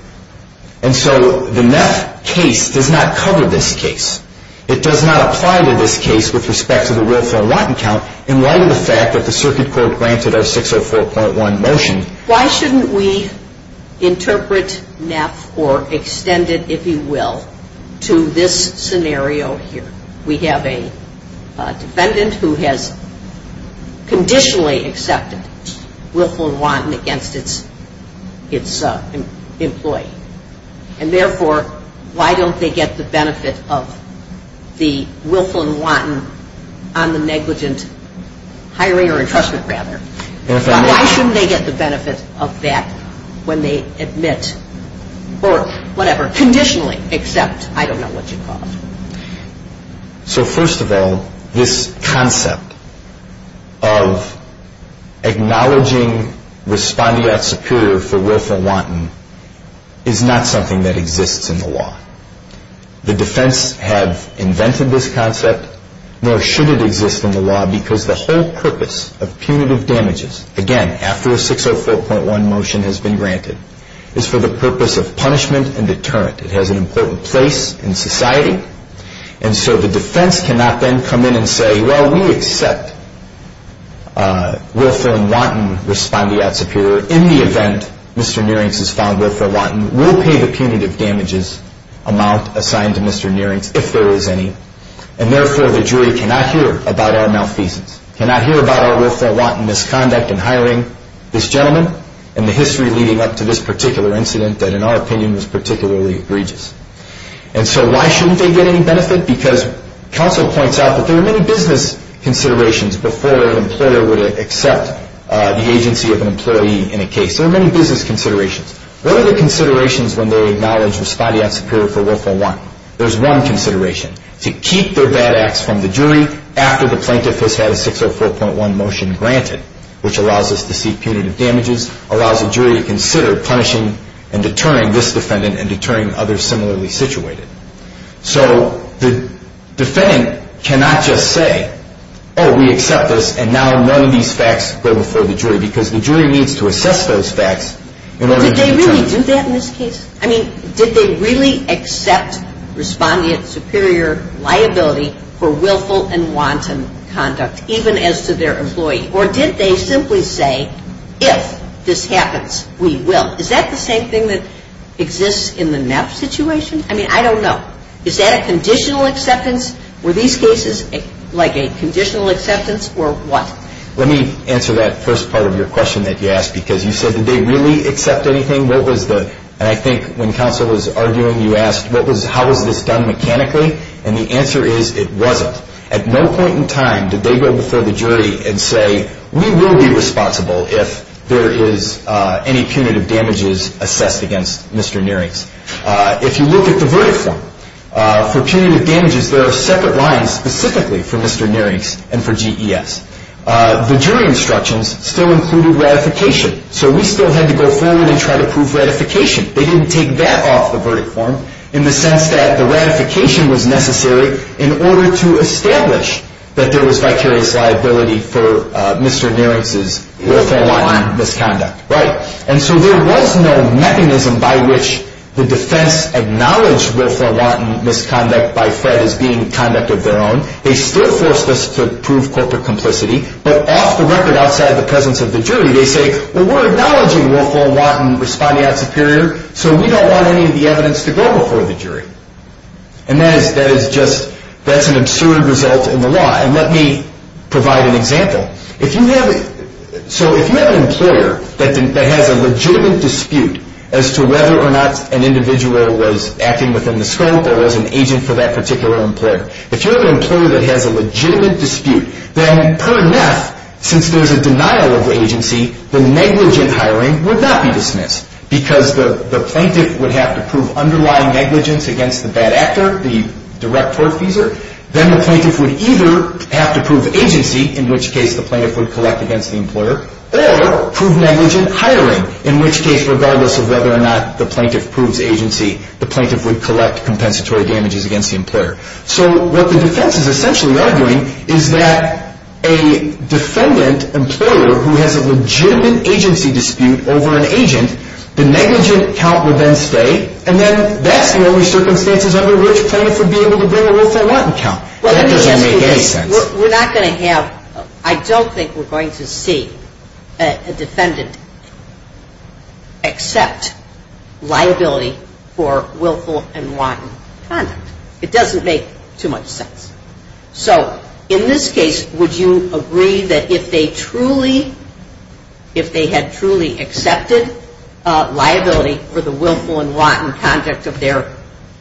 And so the Neff case does not cover this case. It does not apply to this case with respect to the Wilson and Martin count in light of the fact that the circuit court granted a 604.1 motion. Why shouldn't we interpret Neff or extend it, if you will, to this scenario here? We have a defendant who has conditionally accepted Wilson and Martin against its employee. And therefore, why don't they get the benefit of the Wilson and Martin on the negligent hiring or entrustment, rather? Why shouldn't they get the benefit of that when they admit or whatever, conditionally accept, I don't know what you call it. So first of all, this concept of acknowledging responding acts superior for Wilson and Martin is not something that exists in the law. The defense has invented this concept, nor should it exist in the law, because the whole purpose of punitive damages, again, after a 604.1 motion has been granted, is for the purpose of punishment and deterrent. It has an important place in society. And so the defense cannot then come in and say, well, we accept Wilson and Martin responding acts superior in the event Mr. Neering has found Wilson and Martin. We'll pay the punitive damages amount assigned to Mr. Neering, if there is any. And therefore, the jury cannot hear about our malfeasance, cannot hear about our Wilson and Martin misconduct in hiring this gentleman and the history leading up to this particular incident that, in our opinion, was particularly egregious. And so why shouldn't they get any benefit? Because counsel points out that there are many business considerations before an employer would accept the agency of an employee in a case. There are many business considerations. Those are considerations when they acknowledge responding acts superior for Wilson and Martin. There's one consideration, to keep their bad acts from the jury after the plaintiff has had a 604.1 motion granted, which allows us to see punitive damages, allows the jury to consider punishing and deterring this defendant and deterring others similarly situated. So the defendant cannot just say, oh, we accept this, and now none of these facts go before the jury because the jury needs to assess those facts in order to Well, did they really do that in this case? I mean, did they really accept responding acts superior liability for Wilson and Martin conduct, even as to their employee? Or did they simply say, if this happens, we will? Is that the same thing that exists in the NAP situation? I mean, I don't know. Is that a conditional acceptance? Were these cases like a conditional acceptance or what? Let me answer that first part of your question that you asked because you said, did they really accept anything? And I think when counsel was arguing, you asked, how was this done mechanically? And the answer is it wasn't. At no point in time did they go before the jury and say, we will be responsible if there is any punitive damages assessed against Mr. Nierinks. If you look at the verdict, for punitive damages, there are separate lines specifically for Mr. Nierinks and for GES. The jury instructions still included ratification, so we still had to go forward and try to prove ratification. They didn't take that off the verdict form in the sense that the ratification was necessary in order to establish that there was actually liability for Mr. Nierinks' Wilson and Martin misconduct. And so there was no mechanism by which the defense acknowledged Wilson and Martin misconduct by FED as being conduct of their own. They still forced us to prove corporate complicity, but off the record, outside the presence of the jury, they say, well, we're acknowledging Wilson and Martin responding as superior, so we don't want any of the evidence to go before the jury. And that is just, that's an absurd result in the law. And let me provide an example. If you have, so if you have an employer that has a legitimate dispute as to whether or not an individual was acting within the scope or was an agent for that particular employer, but you have an employer that has a legitimate dispute, then per net, since there's a denial of the agency, the negligent hiring would not be dismissed because the plaintiff would have to prove underlying negligence against the bad actor, the direct court user. Then the plaintiff would either have to prove agency, in which case the plaintiff would collect against the employer, or prove negligent hiring, in which case regardless of whether or not the plaintiff proves agency, the plaintiff would collect compensatory damages against the employer. So what the defense is essentially arguing is that a defendant employer who has a legitimate agency dispute over an agent, the negligent comprehends state, and then that's the only circumstances under which the plaintiff would be able to bring a Wilson-Martin charge. That doesn't make any sense. We're not going to have, I don't think we're going to see a defendant accept liability for Wilson and Martin's offense. It doesn't make too much sense. So, in this case, would you agree that if they truly, if they had truly accepted liability for the Wilson-Martin project of their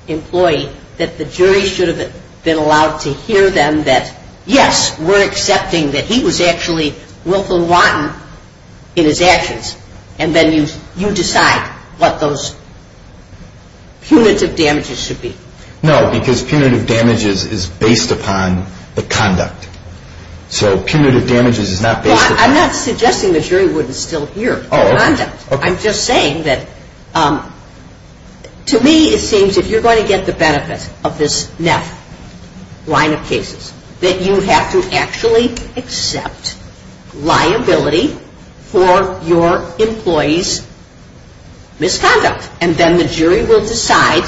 employee, that the jury should have been allowed to hear them that, yes, we're accepting that he was actually Wilson-Martin in his actions, and then you decide what those punitive damages should be? No, because punitive damages is based upon the conduct. So punitive damages is not based upon... I'm not suggesting the jury wouldn't still hear the conduct. I'm just saying that to me it seems if you're going to get the benefit of this NEP line of cases, that you have to actually accept liability for your employee's misconduct, and then the jury will decide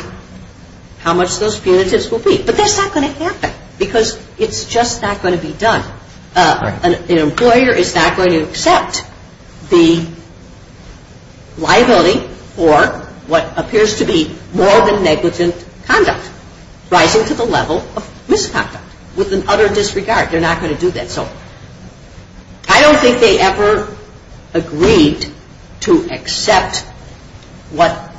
how much those punitives will be. But that's not going to happen, because it's just not going to be done. An employer is not going to accept the liability for what appears to be more than negligent conduct, right into the level of misconduct, with an utter disregard. They're not going to do that. I don't think they ever agreed to accept what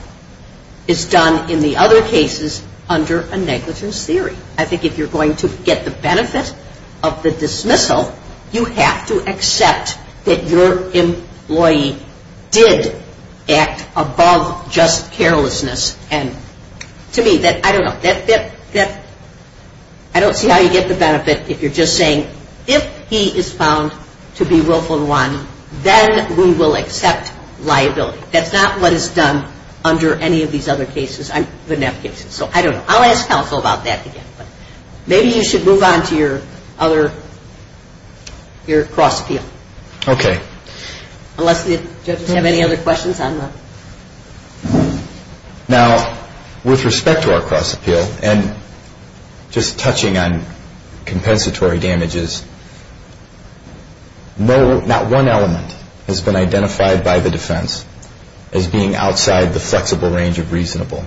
is done in the other cases under a negligence theory. I think if you're going to get the benefit of the dismissal, you have to accept that your employee did act above just carelessness. To me, I don't know, I don't see how you get the benefit if you're just saying, if he is found to be willful in one, then we will accept liability. That's not what is done under any of these other cases, the NEP cases. So I don't know. I'll ask counsel about that again. Maybe you should move on to your other, your cross field. Okay. Alexia, does the judge have any other questions on this? Now, with respect to our cross appeal, and just touching on compensatory damages, not one element has been identified by the defense as being outside the flexible range of reasonable,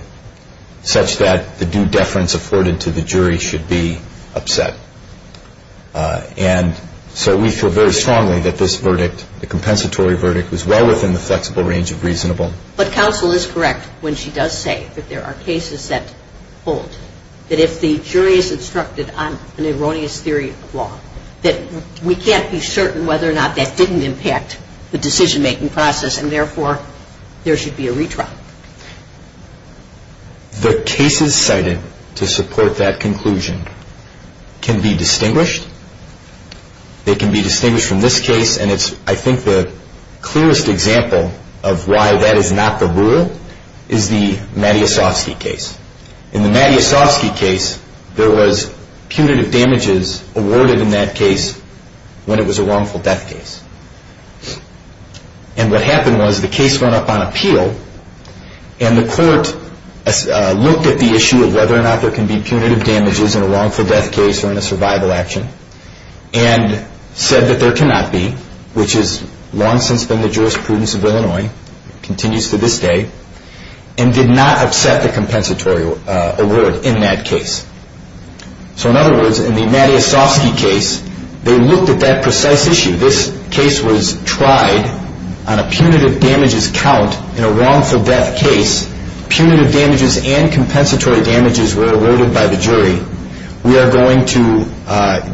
such that the due deference afforded to the jury should be upset. And so we feel very strongly that this verdict, the compensatory verdict, was well within the flexible range of reasonable. But counsel is correct when she does say that there are cases that hold, that if the jury is instructed on an erroneous theory of the law, that we can't be certain whether or not that didn't impact the decision-making process, and therefore there should be a retrial. The cases cited to support that conclusion can be distinguished. They can be distinguished from this case, and I think the clearest example of why that is not the rule is the Mattiasovsky case. In the Mattiasovsky case, there was punitive damages awarded in that case when it was a wrongful death case. And what happened was the case went up on appeal, and the court looked at the issue of whether or not there can be punitive damages in a wrongful death case or in a survival action, and said that there cannot be, which has long since been the jurisprudence of Illinois and continues to this day, and did not accept a compensatory award in that case. So in other words, in the Mattiasovsky case, they looked at that precise issue. This case was tried on a punitive damages count in a wrongful death case. Punitive damages and compensatory damages were awarded by the jury. We are going to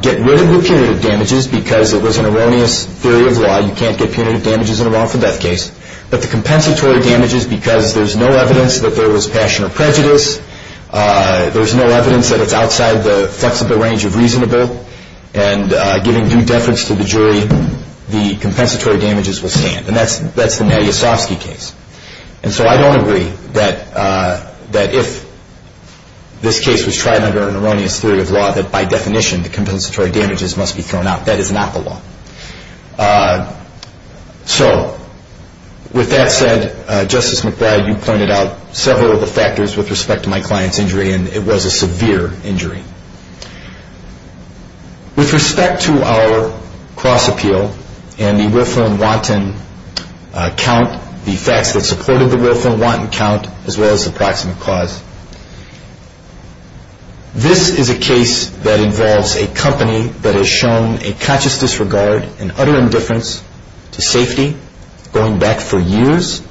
get rid of the punitive damages because it was an erroneous theory of law. You can't get punitive damages in a wrongful death case. But the compensatory damages, because there's no evidence that there was passion or prejudice, there's no evidence that it's outside the flexible range of reasonable, and giving due deference to the jury, the compensatory damages will stand. And that's the Mattiasovsky case. And so I don't agree that if this case was tried under an erroneous theory of law, that by definition the compensatory damages must be thrown out. That is not the law. So with that said, Justice McBride, you pointed out several of the factors with respect to my client's injury, and it was a severe injury. With respect to our cross-appeal and the willful and wanton count, the facts that supported the willful and wanton count, as well as the proximate cause, this is a case that involves a company that has shown a conscious disregard and utter indifference to safety going back for years.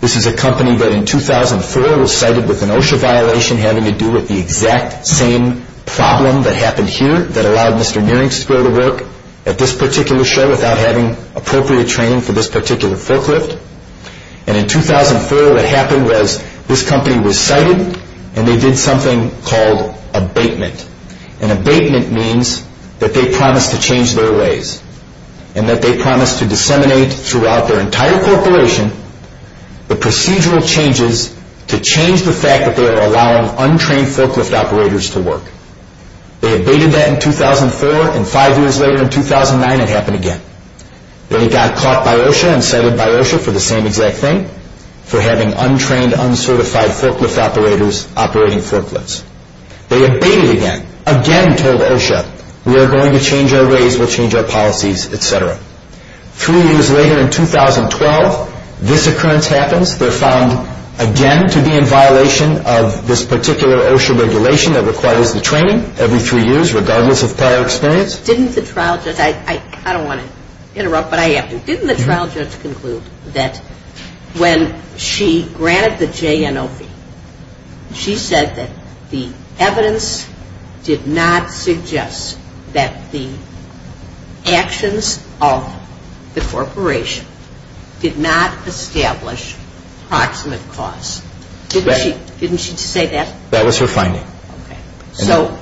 This is a company that in 2004 was cited with an OSHA violation having to do with the exact same problem that happened here that allowed Mr. Niering to go to work at this particular show without having appropriate training for this particular booklet. And in 2004 what happened was this company was cited, and they did something called abatement. And abatement means that they promised to change their ways and that they promised to disseminate throughout their entire corporation the procedural changes to change the fact that they were allowing untrained forklift operators to work. They abated that in 2004, and five years later in 2009 it happened again. They got caught by OSHA and cited by OSHA for the same exact thing, for having untrained, uncertified forklift operators operating forklifts. They abated again, again told OSHA we are going to change our ways, we'll change our policies, et cetera. Three years later in 2012 this occurrence happens. They're found again to be in violation of this particular OSHA regulation that requires the training every three years regardless of prior experience. Didn't the trial judge, I don't want to interrupt, but I have to. Didn't the trial judge conclude that when she grabbed the JNOP, she said that the evidence did not suggest that the actions of the corporation did not establish proximate cause. Didn't she say that? That was her finding. So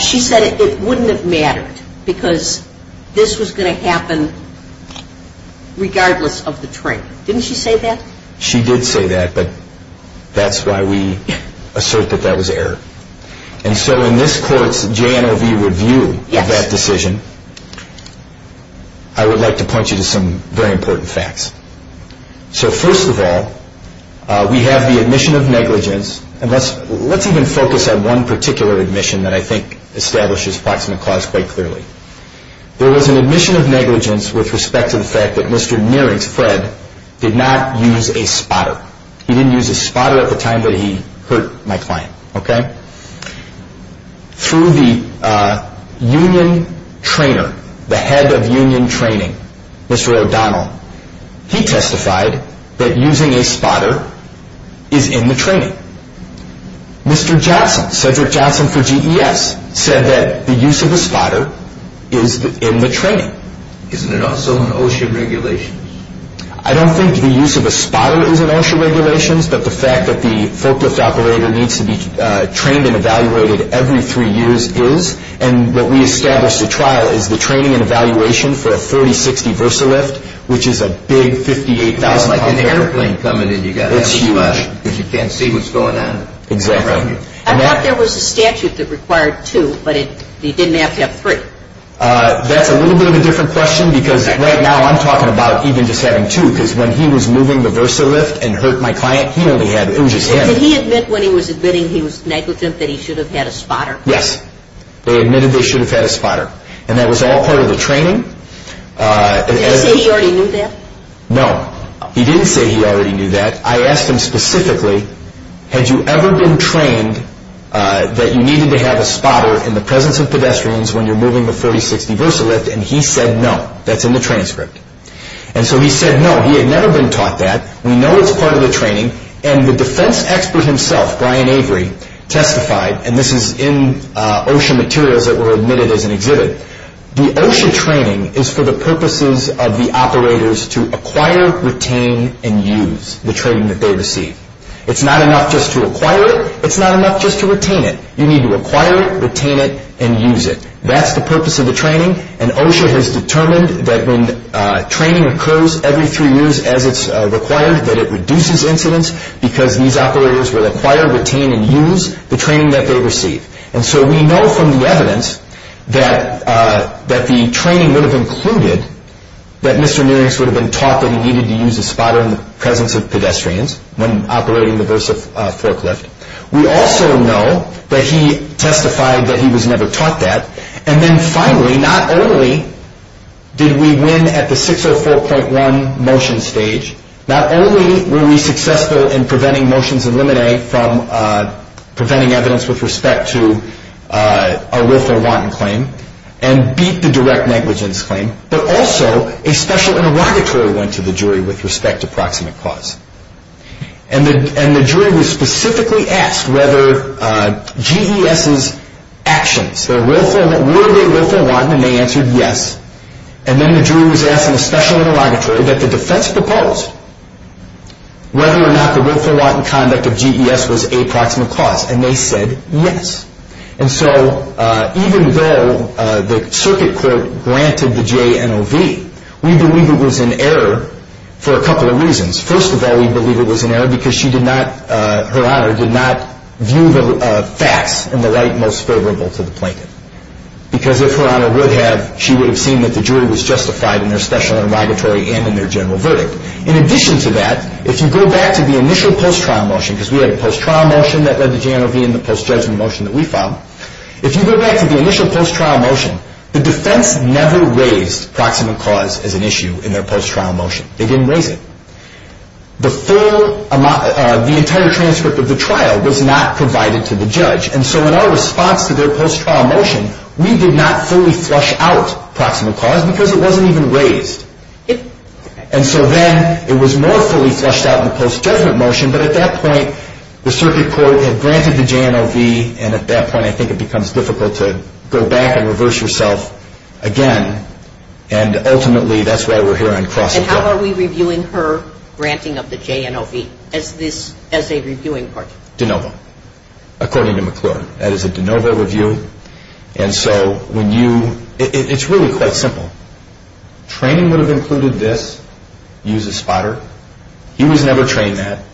she said it wouldn't have mattered because this was going to happen regardless of the training. Didn't she say that? She did say that, but that's why we assert that that was error. And so in this court's JNOP review of that decision, I would like to point you to some very important facts. So first of all, we have the admission of negligence, and let's even focus on one particular admission that I think establishes proximate cause quite clearly. There was an admission of negligence with respect to the fact that Mr. Neering, Fred, did not use a spotter. He didn't use a spotter at the time, but he hurt my client. Through the union trainer, the head of union training, Mr. O'Donnell, he testified that using a spotter is in the training. Mr. Jackson, Cedric Jackson for GDS, said that the use of a spotter is in the training. Isn't it also an OSHA regulation? I don't think the use of a spotter is an OSHA regulation, but the fact that the forklift operator needs to be trained and evaluated every three years is, and what we established at trial is the training and evaluation for a 4060 Versalift, which is a big $58,000 airplane coming in to get you, because you can't see what's going on. Exactly. I thought there was a statute that required two, but you didn't have to have three. That's a little bit of a different question, because right now I'm talking about even just having two, because when he was moving the Versalift and hurt my client, he only had injured hands. Did he admit when he was admitting he was negligent that he should have had a spotter? Yes. They admitted they should have had a spotter, and that was all part of the training. Did he say he already knew that? No, he didn't say he already knew that. I asked him specifically, had you ever been trained that you needed to have a spotter in the presence of pedestrians when you're moving the 4060 Versalift, and he said no, that's in the training script. And so he said no, he had never been taught that. We know it's part of the training, and the defense expert himself, Brian Avery, testified, and this is in OSHA materials that were admitted as negligent. The OSHA training is for the purposes of the operators to acquire, retain, and use the training that they receive. It's not enough just to acquire it. It's not enough just to retain it. You need to acquire it, retain it, and use it. That's the purpose of the training, and OSHA has determined that when training occurs every three years as it's required, that it reduces incidents because these operators will acquire, retain, and use the training that they receive. And so we know from the evidence that the training would have included that Mr. Mearings would have been taught that he needed to use a spotter in the presence of pedestrians when operating the Versalift forklift. We also know that he testified that he was never taught that. And then finally, not only did we win at the 604.1 motion stage, not only were we successful in preventing motions in limine from preventing evidence with respect to a Wilco-Watton claim and beat the direct negligence claim, but also a special interrogatory went to the jury with respect to proximate cause. And the jury was specifically asked whether GDS's actions, were they Wilco-Watton, and they answered yes. And then the jury was asked in a special interrogatory that the defense proposed whether or not the Wilco-Watton conduct of GDS was a proximate cause, and they said yes. And so even though the circuit court granted the JNOV, we believe it was an error for a couple of reasons. First of all, we believe it was an error because Her Honor did not view the facts in the light most favorable for the plaintiff. Because if Her Honor would have, she would have seen that the jury was justified in their special interrogatory and in their general verdict. In addition to that, if you go back to the initial post-trial motion, because we had a post-trial motion that led to JNOV and the post-judgment motion that we filed, if you go back to the initial post-trial motion, the defense never raised proximate cause as an issue in their post-trial motion. They didn't raise it. The entire transcript of the trial was not provided to the judge, and so in our response to their post-trial motion, we did not fully flush out proximate cause because it wasn't even raised. And so then it was more fully flushed out in the post-judgment motion, but at that point the circuit court had granted the JNOV, and at that point I think it becomes difficult to go back and reverse yourself again, and ultimately that's why we're here on cross-examination. And how are we reviewing Her granting of the JNOV as a reviewing court? JNOV, according to McClure. That is a JNOV review, and so when you – it's really quite simple. Training would have included this, use a spotter. He was never trained that,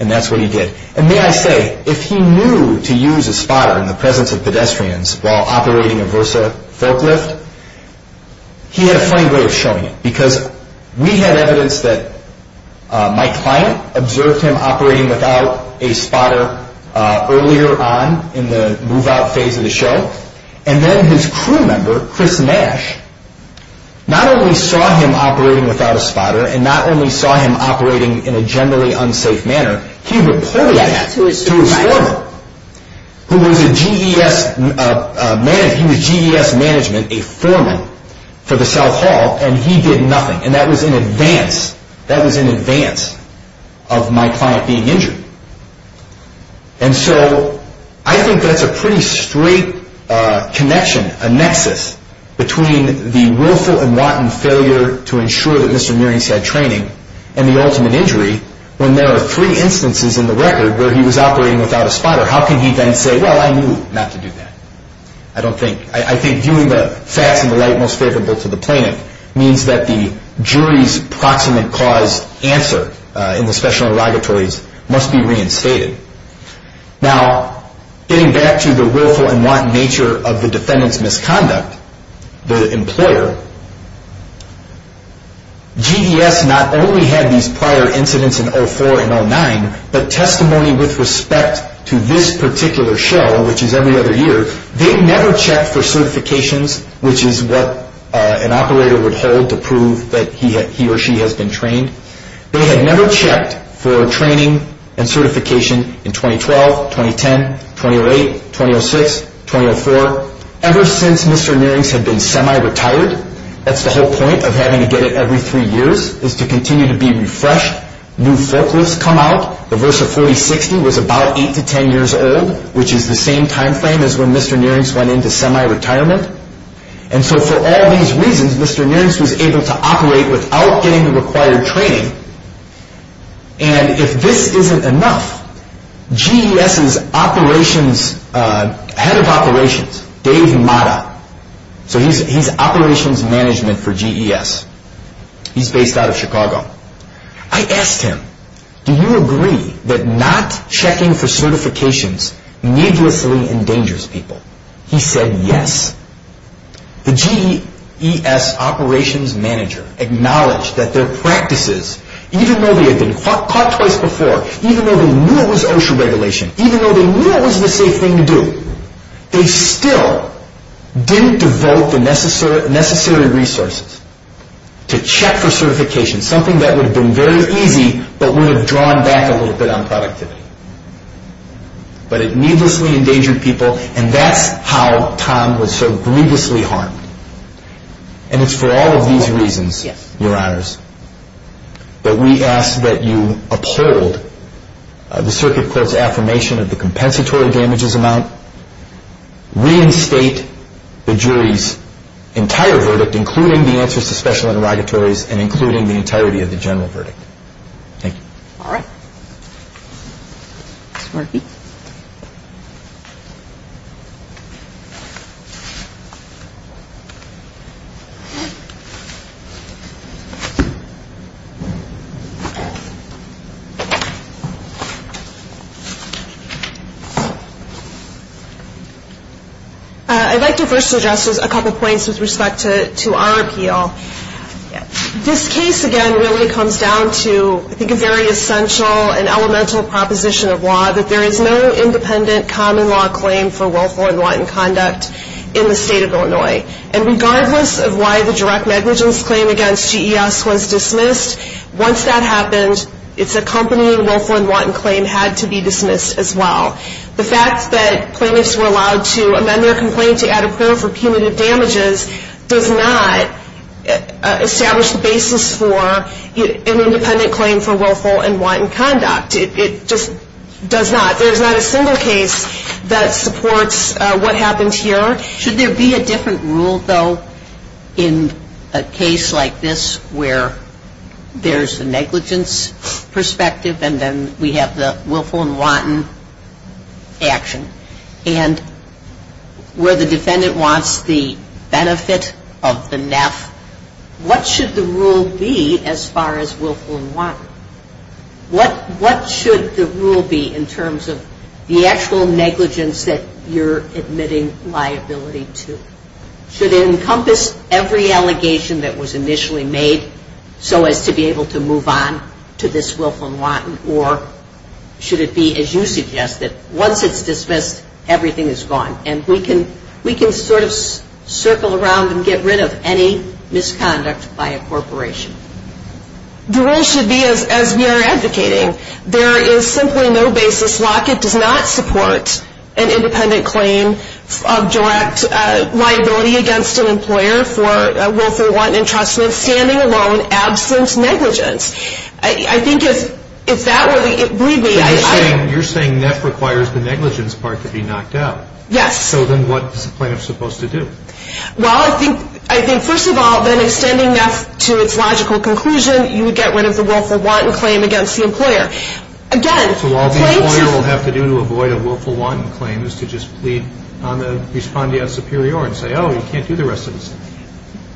and that's what he did. And may I say, if he knew to use a spotter in the presence of pedestrians while operating a Versa forklift, he had a pretty good showing, because we had evidence that Mike Fyatt observed him operating without a spotter earlier on in the move-out phase of the show, and then his crew member, Chris Nash, not only saw him operating without a spotter and not only saw him operating in a generally unsafe manner, he reported that to his firm, who was in GES management, a firm for the South Hall, and he did nothing, and that was in advance of Mike Fyatt being injured. And so I think that's a pretty straight connection, a nexus, between the willful and wanton failure to ensure that Mr. Mearings had training and the ultimate injury when there are three instances in the record where he was operating without a spotter. How can he then say, well, I knew not to do that? I don't think – I think viewing the fact in the light most favorable to the plaintiff means that the jury's proximate cause answer in the special interrogatories must be reinstated. Now, getting back to the willful and wanton nature of the defendant's misconduct, the employer, GES not only had these prior incidents in 2004 and 2009, but testimony with respect to this particular show, which is every other year, they never checked for certifications, which is what an operator would hold to prove that he or she has been trained. They had never checked for training and certification in 2012, 2010, 2008, 2006, 2004. Ever since Mr. Mearings had been semi-retired, that's the whole point of having to get it every three years, is to continue to be refreshed. New folklores come out. The verse of 4060 was about eight to ten years old, which is the same time frame as when Mr. Mearings went into semi-retirement. And so for all these reasons, Mr. Mearings was able to operate without getting the required training. And if this isn't enough, GES's operations, head of operations, Dave Mata, so he's operations management for GES. He's based out of Chicago. I asked him, do you agree that not checking for certifications needlessly endangers people? He said yes. The GES operations manager acknowledged that their practices, even though they had been caught twice before, even though they knew it was OSHA regulation, even though they knew it was the safe thing to do, they still didn't develop the necessary resources to check for certification, something that would have been very easy but would have drawn back a little bit on productivity. But it needlessly endangered people, and that's how Tom was so grievously harmed. And it's for all of these reasons, Your Honors, that we ask that you uphold the circuit court's affirmation of the compensatory damages amount, reinstate the jury's entire verdict, including the answers to special interrogatories, and including the entirety of the general verdict. Thank you. Laura? Marky? I'd like to first address a couple points with respect to our appeal. This case, again, really comes down to, I think, a very essential and elemental proposition of law, that there is no independent common law claim for willful and wanton conduct in the state of Illinois. And regardless of why the direct negligence claim against GES was dismissed, once that happened, its accompanying willful and wanton claim had to be dismissed as well. The fact that claimants were allowed to amend their complaint to add a period for cumulative damages does not establish the basis for an independent claim for willful and wanton conduct. It just does not. There's not a single case that supports what happened here. Should there be a different rule, though, in a case like this where there's a negligence perspective and then we have the willful and wanton action, and where the defendant wants the benefit of the NEP, what should the rule be as far as willful and wanton? What should the rule be in terms of the actual negligence that you're admitting liability to? Should it encompass every allegation that was initially made so as to be able to move on to this willful and wanton, or should it be, as you suggested, once it's dismissed, everything is gone, and we can sort of circle around and get rid of any misconduct by a corporation? The rule should be, as we are advocating, there is simply no basis. The blockage does not support an independent claim of direct liability against an employer for willful and wanton entrustment, standing alone, absence, negligence. I think if that were to be abbreviated... So you're saying NEP requires the negligence part to be knocked out. Yes. So then what is the plaintiff supposed to do? Well, I think, first of all, by sending NEP to its logical conclusion, So all the employer will have to do to avoid a willful wanton claim is to just plead on the respondeat superior and say, oh, you can't do the rest of this.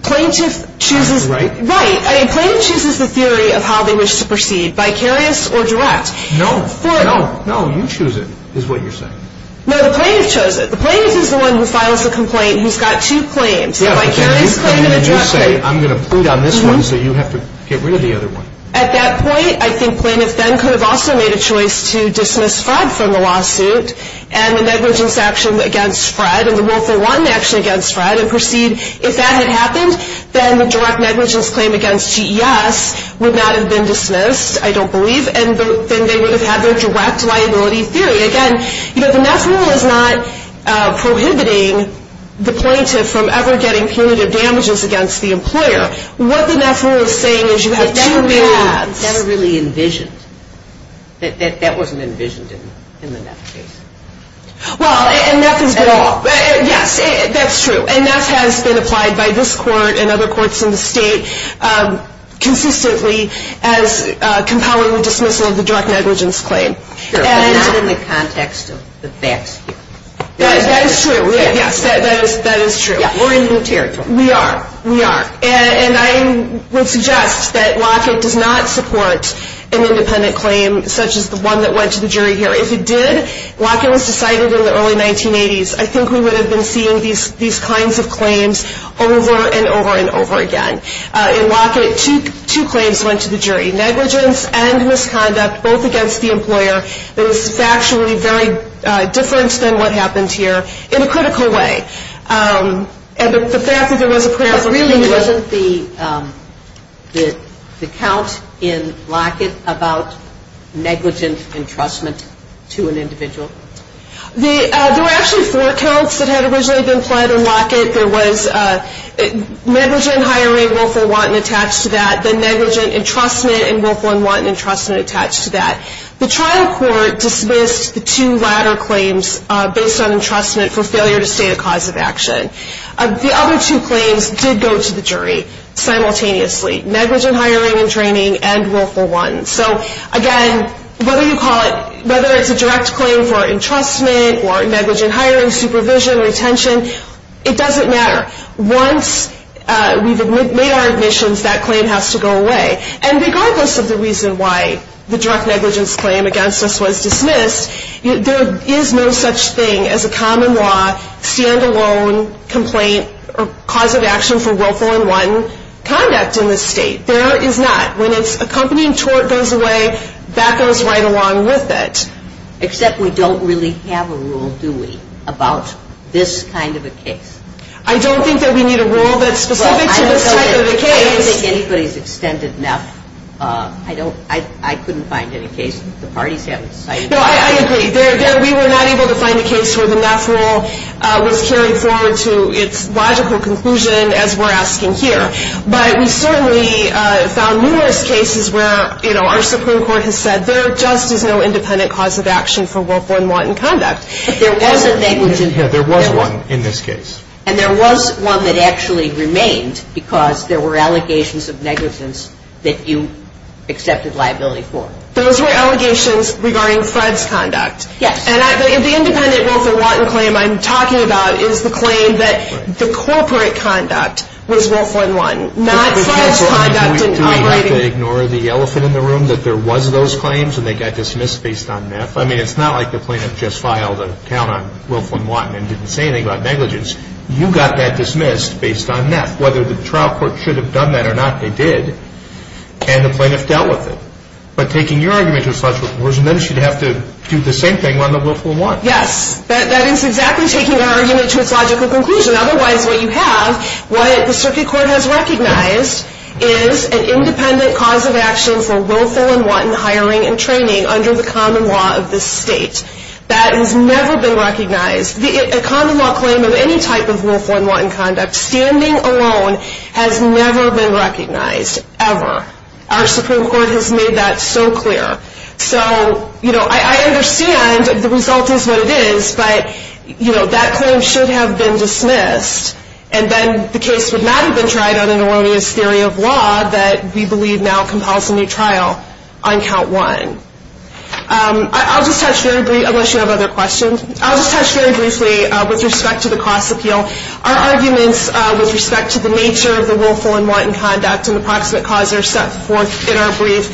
Plaintiff chooses... Right. Right. I mean, plaintiff chooses the theory of how they wish to proceed, vicarious or direct. No. No. No, you choose it, is what you're saying. No, the plaintiff chose it. The plaintiff is the one who filed the complaint. He's got two claims, a vicarious claim and a direct claim. I'm going to plead on this one, so you have to get rid of the other one. At that point, I think plaintiff then could have also made a choice to dismiss Fred from the lawsuit and the negligence action against Fred and the willful wanton action against Fred and proceed. If that had happened, then the direct negligence claim against GES would not have been dismissed, I don't believe, and then they would have had their direct liability period. Again, the NEP rule is not prohibiting the plaintiff from ever getting punitive damages against the employer. What the NEP rule is saying is you have never really envisioned that that wasn't envisioned in the NEP case. Well, and NEP is law. Yes, that's true. And NEP has been applied by this court and other courts in the state consistently as compelling dismissal of the direct negligence claim. Sure. And it's in the context of the facts. That is true. Yes. That is true. We're in the territory. We are. We are. And I would suggest that WACA does not support an independent claim such as the one that went to the jury here. If it did, WACA was decided in the early 1980s. I think we would have been seeing these kinds of claims over and over and over again. In WACA, two claims went to the jury, negligence and misconduct, both against the employer. It was factually very different than what happens here in a critical way. And the fact that there was a claim, really, wasn't the count in Lockett about negligent entrustment to an individual? There were actually four counts that had originally been filed in Lockett. There was negligent hiring, Wilford Wanton attached to that, then negligent entrustment, and Wilford Wanton entrustment attached to that. The trial court dismissed the two latter claims based on entrustment for failure to state a cause of action. The other two claims did go to the jury simultaneously, negligent hiring and training and Wilford Wanton. So, again, whether you call it, whether it's a direct claim or entrustment or negligent hiring, supervision, retention, it doesn't matter. Once we've made our admissions, that claim has to go away. And regardless of the reason why the direct negligence claim against us was dismissed, there is no such thing as a common law, stand-alone complaint or cause of action for Wilford Wanton conduct in this state. There is not. When a company tort goes away, that goes right along with it. Except we don't really have a rule, do we, about this kind of a case? I don't think that we need a rule that's specific to this kind of a case. I don't think anybody's extended enough. I couldn't find any cases. The parties haven't decided yet. No, I agree. We were not able to find a case where the NAF rule was carried forward to its logical conclusion, as we're asking here. But we certainly found numerous cases where, you know, our Supreme Court has said, there just is no independent cause of action for Wilford Wanton conduct. But there was a negligence. Yes, there was one in this case. And there was one that actually remained because there were allegations of negligence that you accepted liability for. Those were allegations regarding Fred's conduct. Yes. And the independent Wilford Wanton claim I'm talking about is the claim that the corporate conduct was Wilford Wanton, not Fred's conduct. Do we have to ignore the elephant in the room that there was those claims and they got dismissed based on NAF? I mean, it's not like the plaintiff just filed a count on Wilford Wanton and didn't say anything about negligence. You got that dismissed based on NAF. Whether the trial court should have done that or not, they did. And the plaintiff dealt with it. But taking your argument as such, we're supposed to have to do the same thing on the Wilford Wanton. Yes. That is exactly taking an argument to a logical conclusion. Otherwise, what you have, what the circuit court has recognized, is an independent cause of action for Wilford Wanton hiring and training under the common law of the state. That has never been recognized. A common law claim of any type of Wilford Wanton conduct, standing alone, has never been recognized. Ever. Our Supreme Court has made that so clear. So, you know, I understand the result is what it is, but, you know, that claim should have been dismissed. And then the case would not have been tried other than one with theory of law that we believe now compels a new trial on count one. I'll just touch very briefly, unless you have other questions. I'll just touch very briefly with respect to the cost appeal. Our arguments with respect to the nature of the Wilford Wanton conduct and the parts that cause it are set forth in our brief.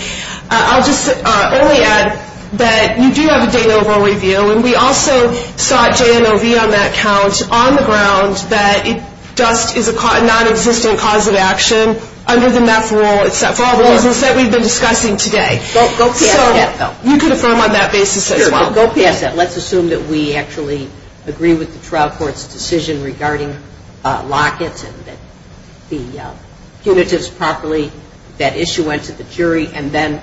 I'll just only add that you do have a theory of what we do, and we also sought J&OV on that count on the grounds that it does, is a non-existent cause of action under the MAP rule, except for all the rules that we've been discussing today. So you can affirm on that basis as well. Let's assume that we actually agree with the trial court's decision regarding Lockett, and that the punitives properly, that issue went to the jury, and then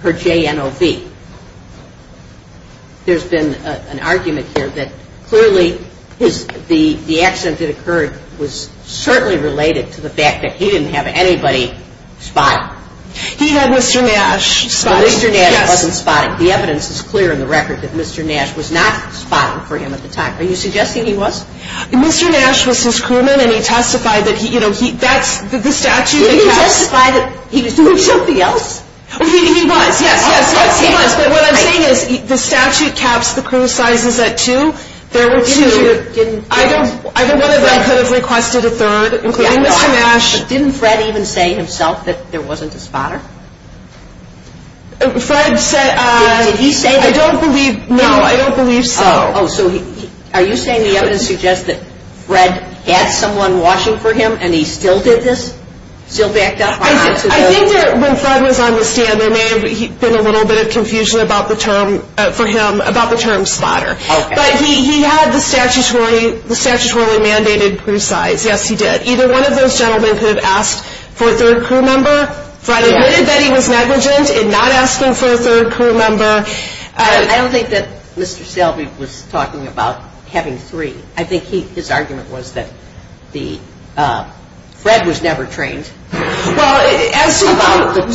per J&OV. There's been an argument here that clearly the accident that occurred was certainly related to the fact that he didn't have anybody spotted. He had Mr. Nash spotted. Mr. Nash wasn't spotted. The evidence is clear in the record that Mr. Nash was not spotted for him at the time. Are you suggesting he was? Mr. Nash was his crewman, and he testified that he, you know, that's the statute. He testified that he didn't do anything else. Oh, he was. Yes, he was. What I'm saying is the statute caps the crew sizes at two. There were two that didn't. I don't know that Lockett requested a third, including Mr. Nash. Didn't Fred even say himself that there wasn't a spotter? Fred said, I don't believe, no, I don't believe so. Oh, so are you saying the evidence suggests that Fred had someone watching for him and he still did this, still backed up by Mr. Nash? I think that when Fred was on the stand, there may have been a little bit of confusion for him about the term spotter. But he had the statutory mandated crew size. Yes, he did. Either one of those gentlemen could have asked for a third crew member. Fred admitted that he was negligent in not asking for a third crew member. I don't think that Mr. Selby was talking about having three. I think his argument was that Fred was never trained. Well, it has to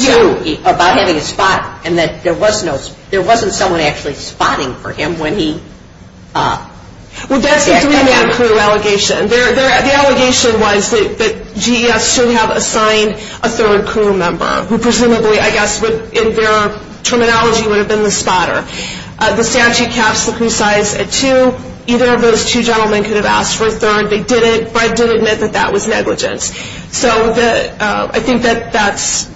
do with you, about having a spotter, and that there wasn't someone actually spotting for him when he... Well, that's a three-man crew allegation. Their allegation was that GEF shouldn't have assigned a third crew member, who presumably, I guess, in their terminology, would have been the spotter. The statute cast the crew size at two. Either of those two gentlemen could have asked for a third. They didn't. Fred didn't admit that that was negligent. So I think that that's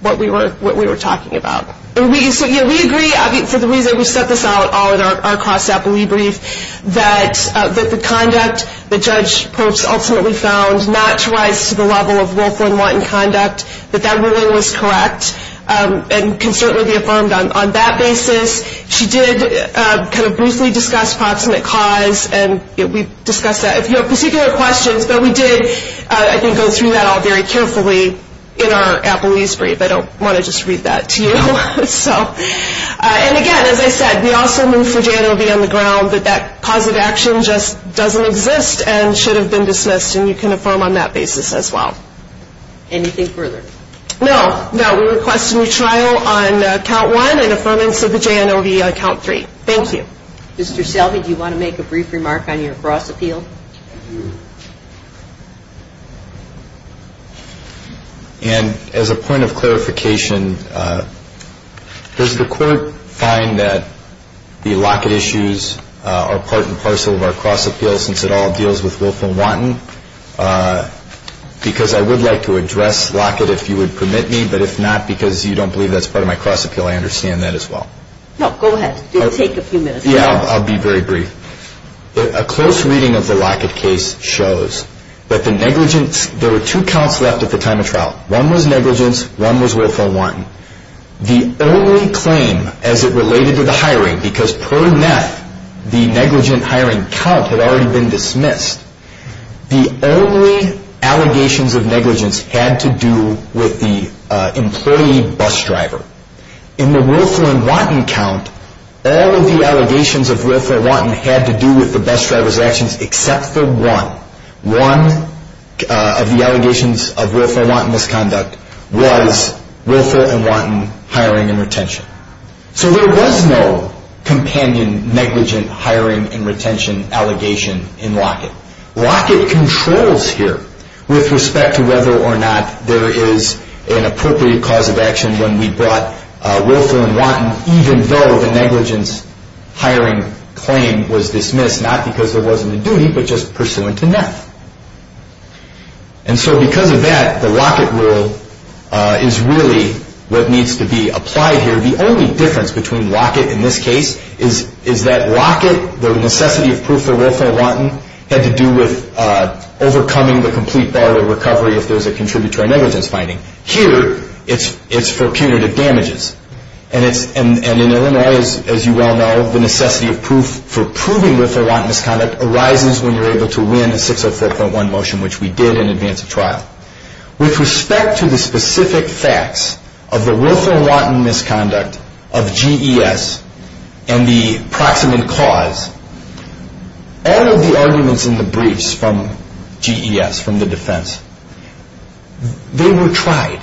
what we were talking about. We agree, for the reason that we set this out all in our cross-staff debrief, that the conduct that Judge Post ultimately found, not to rise to the level of willful and wanton conduct, that that ruling was correct and can certainly be affirmed on that basis. She did kind of briefly discuss posthumous cause, and we discussed that. If you have particular questions, though, we did, I think, go through that all very carefully in our Apple Newsbrief. I don't want to just read that to you. And, again, as I said, we also move for J&O to be on the ground that that positive action just doesn't exist and should have been dismissed, and you can affirm on that basis as well. Anything further? No. No, we request a new trial on count one and affirming for the J&O to be on count three. Thank you. Mr. Selby, do you want to make a brief remark on your cross-appeal? Thank you. And as a point of clarification, does the Court find that the Lockett issues are part and parcel of our cross-appeal since it all deals with willful and wanton? Because I would like to address Lockett if you would permit me, but if not because you don't believe that's part of my cross-appeal, I understand that as well. No, go ahead. It will take a few minutes. Yeah, I'll be very brief. A close reading of the Lockett case shows that the negligence, there were two counts left at the time of trial. One was negligence, one was willful and wanton. The only claim as it related to the hiring, because per meth the negligent hiring count had already been dismissed, the only allegations of negligence had to do with the employee bus driver. In the willful and wanton count, all of the allegations of willful and wanton had to do with the bus driver's actions except for one. One of the allegations of willful and wanton misconduct was willful and wanton hiring and retention. So there was no companion negligent hiring and retention allegation in Lockett. Lockett controls here with respect to whether or not there is an appropriate cause of action when we brought willful and wanton even though the negligence hiring claim was dismissed, not because there wasn't a duty but just pursuant to meth. And so because of that, the Lockett rule is really what needs to be applied here. The only difference between Lockett in this case is that Lockett, the necessity of proof for willful and wanton had to do with overcoming the complete failure recovery if there was a contributory negligence finding. Here, it's for punitive damages. And in Illinois, as you well know, the necessity of proof for proving willful and wanton misconduct arises when you're able to win a 604.1 motion, which we did in advance of trial. With respect to the specific facts of the willful and wanton misconduct of GES and the proximate cause, all of the arguments in the briefs from GES, from the defense, they were tried.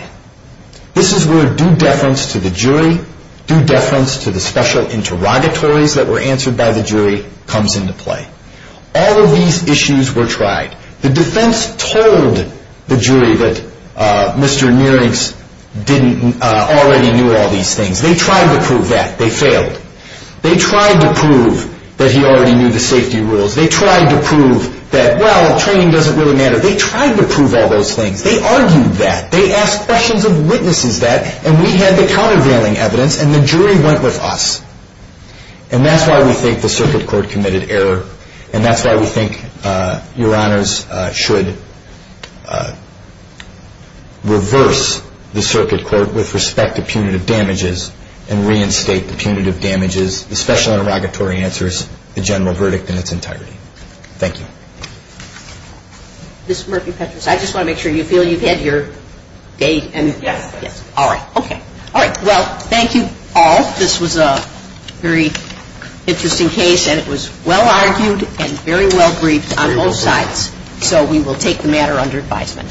This is where due deference to the jury, due deference to the special interrogatories that were answered by the jury comes into play. All of these issues were tried. The defense told the jury that Mr. Nierinks already knew all these things. They tried to prove that. They failed. They tried to prove that he already knew the safety rules. They tried to prove that, well, training doesn't really matter. They tried to prove all those things. They argued that. They asked questions of witnesses that. And we had the counter-grounding evidence. And the jury went with us. And that's why we think the circuit court committed error. And that's why we think Your Honors should reverse the circuit court with respect to punitive damages and reinstate the punitive damages, the special interrogatory answers, the general verdict in its entirety. Thank you. Ms. Murphy-Petras, I just want to make sure you feel you've had your day. All right. Okay. All right. Well, thank you all. This was a very interesting case, and it was well-argued and very well-briefed on both sides. So we will take the matter under advisement.